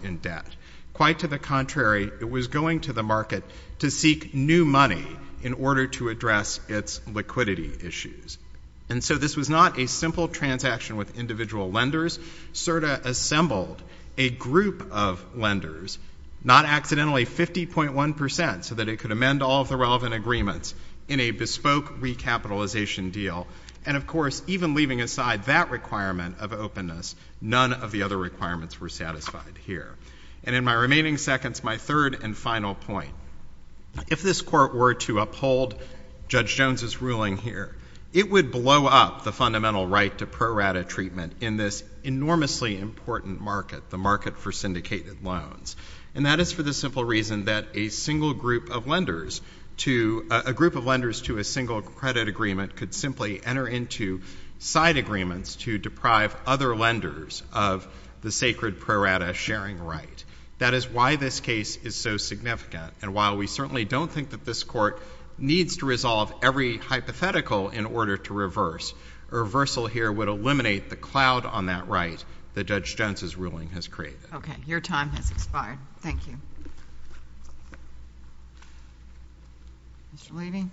in debt. Quite to the contrary, it was going to the market to seek new money in order to address its liquidity issues. And so this was not a simple transaction with individual lenders. CERTA assembled a group of lenders, not accidentally 50.1% so that it could amend all of the relevant agreements in a bespoke recapitalization deal. And, of course, even leaving aside that requirement of openness, none of the other requirements were satisfied here. And in my remaining seconds, my third and final point. If this Court were to uphold Judge Jones's ruling here, it would blow up the fundamental right to pro rata treatment in this enormously important market, the market for syndicated loans. And that is for the simple reason that a group of lenders to a single credit agreement could simply enter into side agreements to deprive other lenders of the sacred pro rata sharing right. That is why this case is so significant. And while we certainly don't think that this Court needs to resolve every hypothetical in order to reverse, a reversal here would eliminate the cloud on that right that Judge Jones's ruling has created. Okay. Your time has expired. Thank you. Mr. Levy?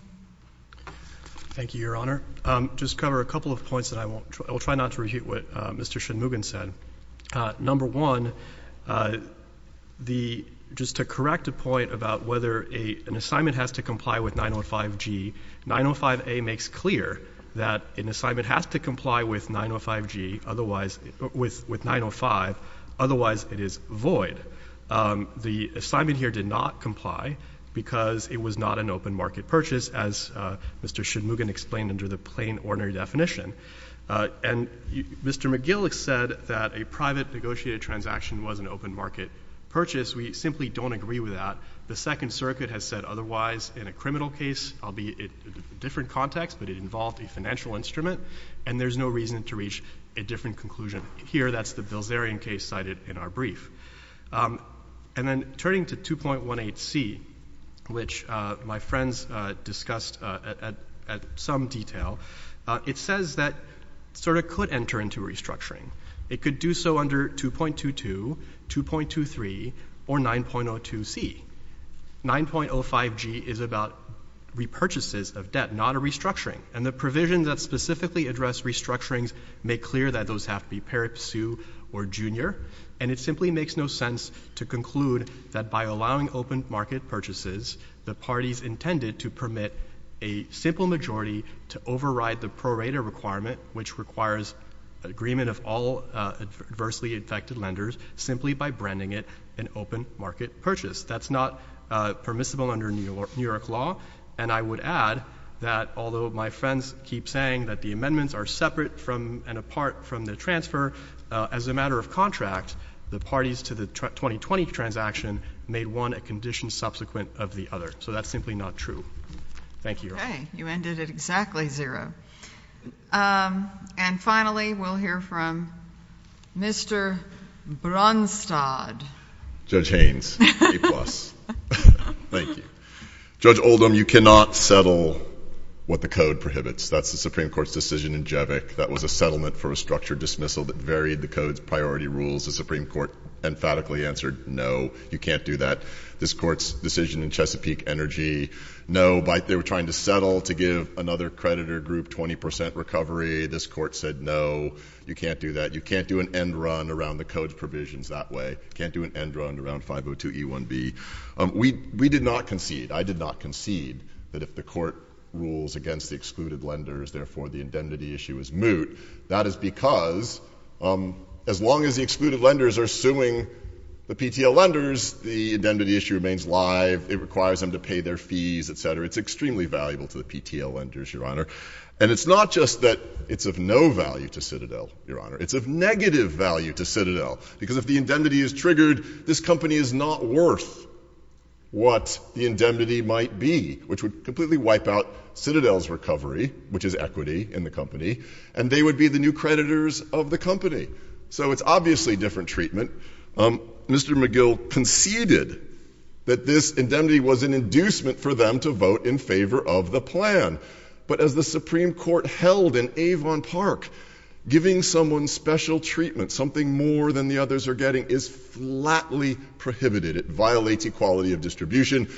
Thank you, Your Honor. Just to cover a couple of points, and I will try not to repeat what Mr. Shunmugam said. Number one, just to correct a point about whether an assignment has to comply with 905G, 905A makes clear that an assignment has to comply with 905G otherwise it is void. The assignment here did not comply because it was not an open market purchase, as Mr. Shunmugam explained under the plain ordinary definition. And Mr. McGill has said that a private negotiated transaction was an open market purchase. We simply don't agree with that. The Second Circuit has said otherwise in a criminal case. I'll be in a different context, but it involved a financial instrument, and there's no reason to reach a different conclusion. Here, that's the Bilzerian case cited in our brief. And then turning to 2.18C, which my friends discussed at some detail, it says that SIRTA could enter into restructuring. It could do so under 2.22, 2.23, or 9.02C. 9.05G is about repurchases of debt, not a restructuring. And the provisions that specifically address restructurings make clear that those have to be parapsu or junior. And it simply makes no sense to conclude that by allowing open market purchases, the parties intended to permit a simple majority to override the prorater requirement, which requires agreement of all adversely affected lenders, simply by branding it an open market purchase. That's not permissible under New York law. And I would add that although my friends keep saying that the amendments are separate from and apart from the transfer, as a matter of contract, the parties to the 2020 transaction made one a condition subsequent of the other. So that's simply not true. Thank you. Okay. You ended at exactly zero. And finally, we'll hear from Mr. Bronstad. Judge Haynes, A-plus. Thank you. Judge Oldham, you cannot settle what the Code prohibits. That's the Supreme Court's decision in Jevic. That was a settlement for a structured dismissal that varied the Code's priority rules. The Supreme Court emphatically answered no, you can't do that. This Court's decision in Chesapeake Energy, no, but they were trying to settle to give another creditor group 20% recovery. This Court said no, you can't do that. You can't do an end run around the Code's provisions that way. You can't do an end run around 502E1B. We did not concede, I did not concede, that if the Court rules against the excluded lenders, therefore the indemnity issue is moot. That is because as long as the excluded lenders are suing the PTL lenders, the indemnity issue remains live. It requires them to pay their fees, et cetera. It's extremely valuable to the PTL lenders, Your Honor. And it's not just that it's of no value to Citadel, Your Honor. It's of negative value to Citadel because if the indemnity is triggered, this company is not worth what the indemnity might be, which would completely wipe out Citadel's recovery, which is equity in the company, and they would be the new creditors of the company. So it's obviously a different treatment. Mr. McGill conceded that this indemnity was an inducement for them to vote in favor of the plan. But as the Supreme Court held in Avon Park, giving someone special treatment, something more than the others are getting, is flatly prohibited. It violates equality of distribution.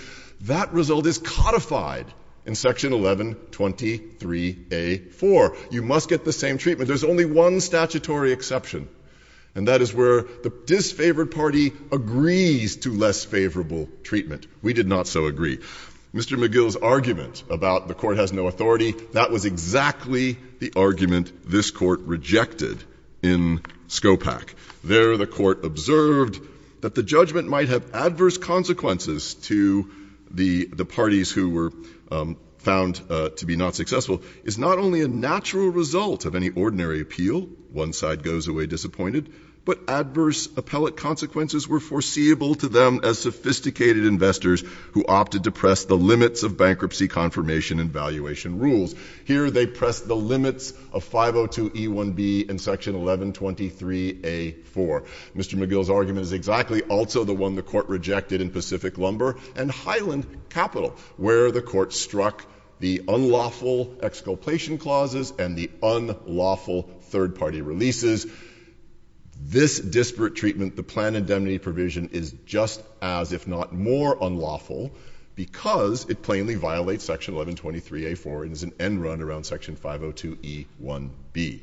That result is codified in Section 1123A.4. You must get the same treatment. There's only one statutory exception, and that is where the disfavored party agrees to less favorable treatment. We did not so agree. Mr. McGill's argument about the court has no authority, that was exactly the argument this court rejected in Scopak. There, the court observed that the judgment might have adverse consequences to the parties who were found to be not successful is not only a natural result of any ordinary appeal, one side goes away disappointed, but adverse appellate consequences were foreseeable to them as sophisticated investors who opted to press the limits of bankruptcy confirmation and valuation rules. Here, they pressed the limits of 502E1B in Section 1123A.4. Mr. McGill's argument is exactly also the one the court rejected in Pacific Lumber and Highland Capital, where the court struck the unlawful exculpation clauses and the unlawful third-party releases. This disparate treatment, the planned indemnity provision, is just as, if not more, unlawful because it plainly violates Section 1123A.4 and is an end run around Section 502E1B.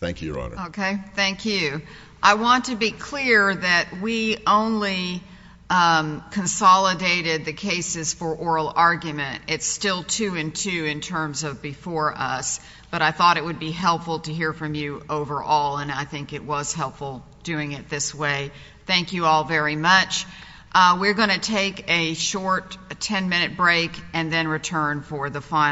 Thank you, Your Honor. Okay, thank you. I want to be clear that we only consolidated the cases for oral argument. It's still 2-in-2 in terms of before us, but I thought it would be helpful to hear from you overall, and I think it was helpful doing it this way. Thank you all very much. We're going to take a short 10-minute break and then return for the final.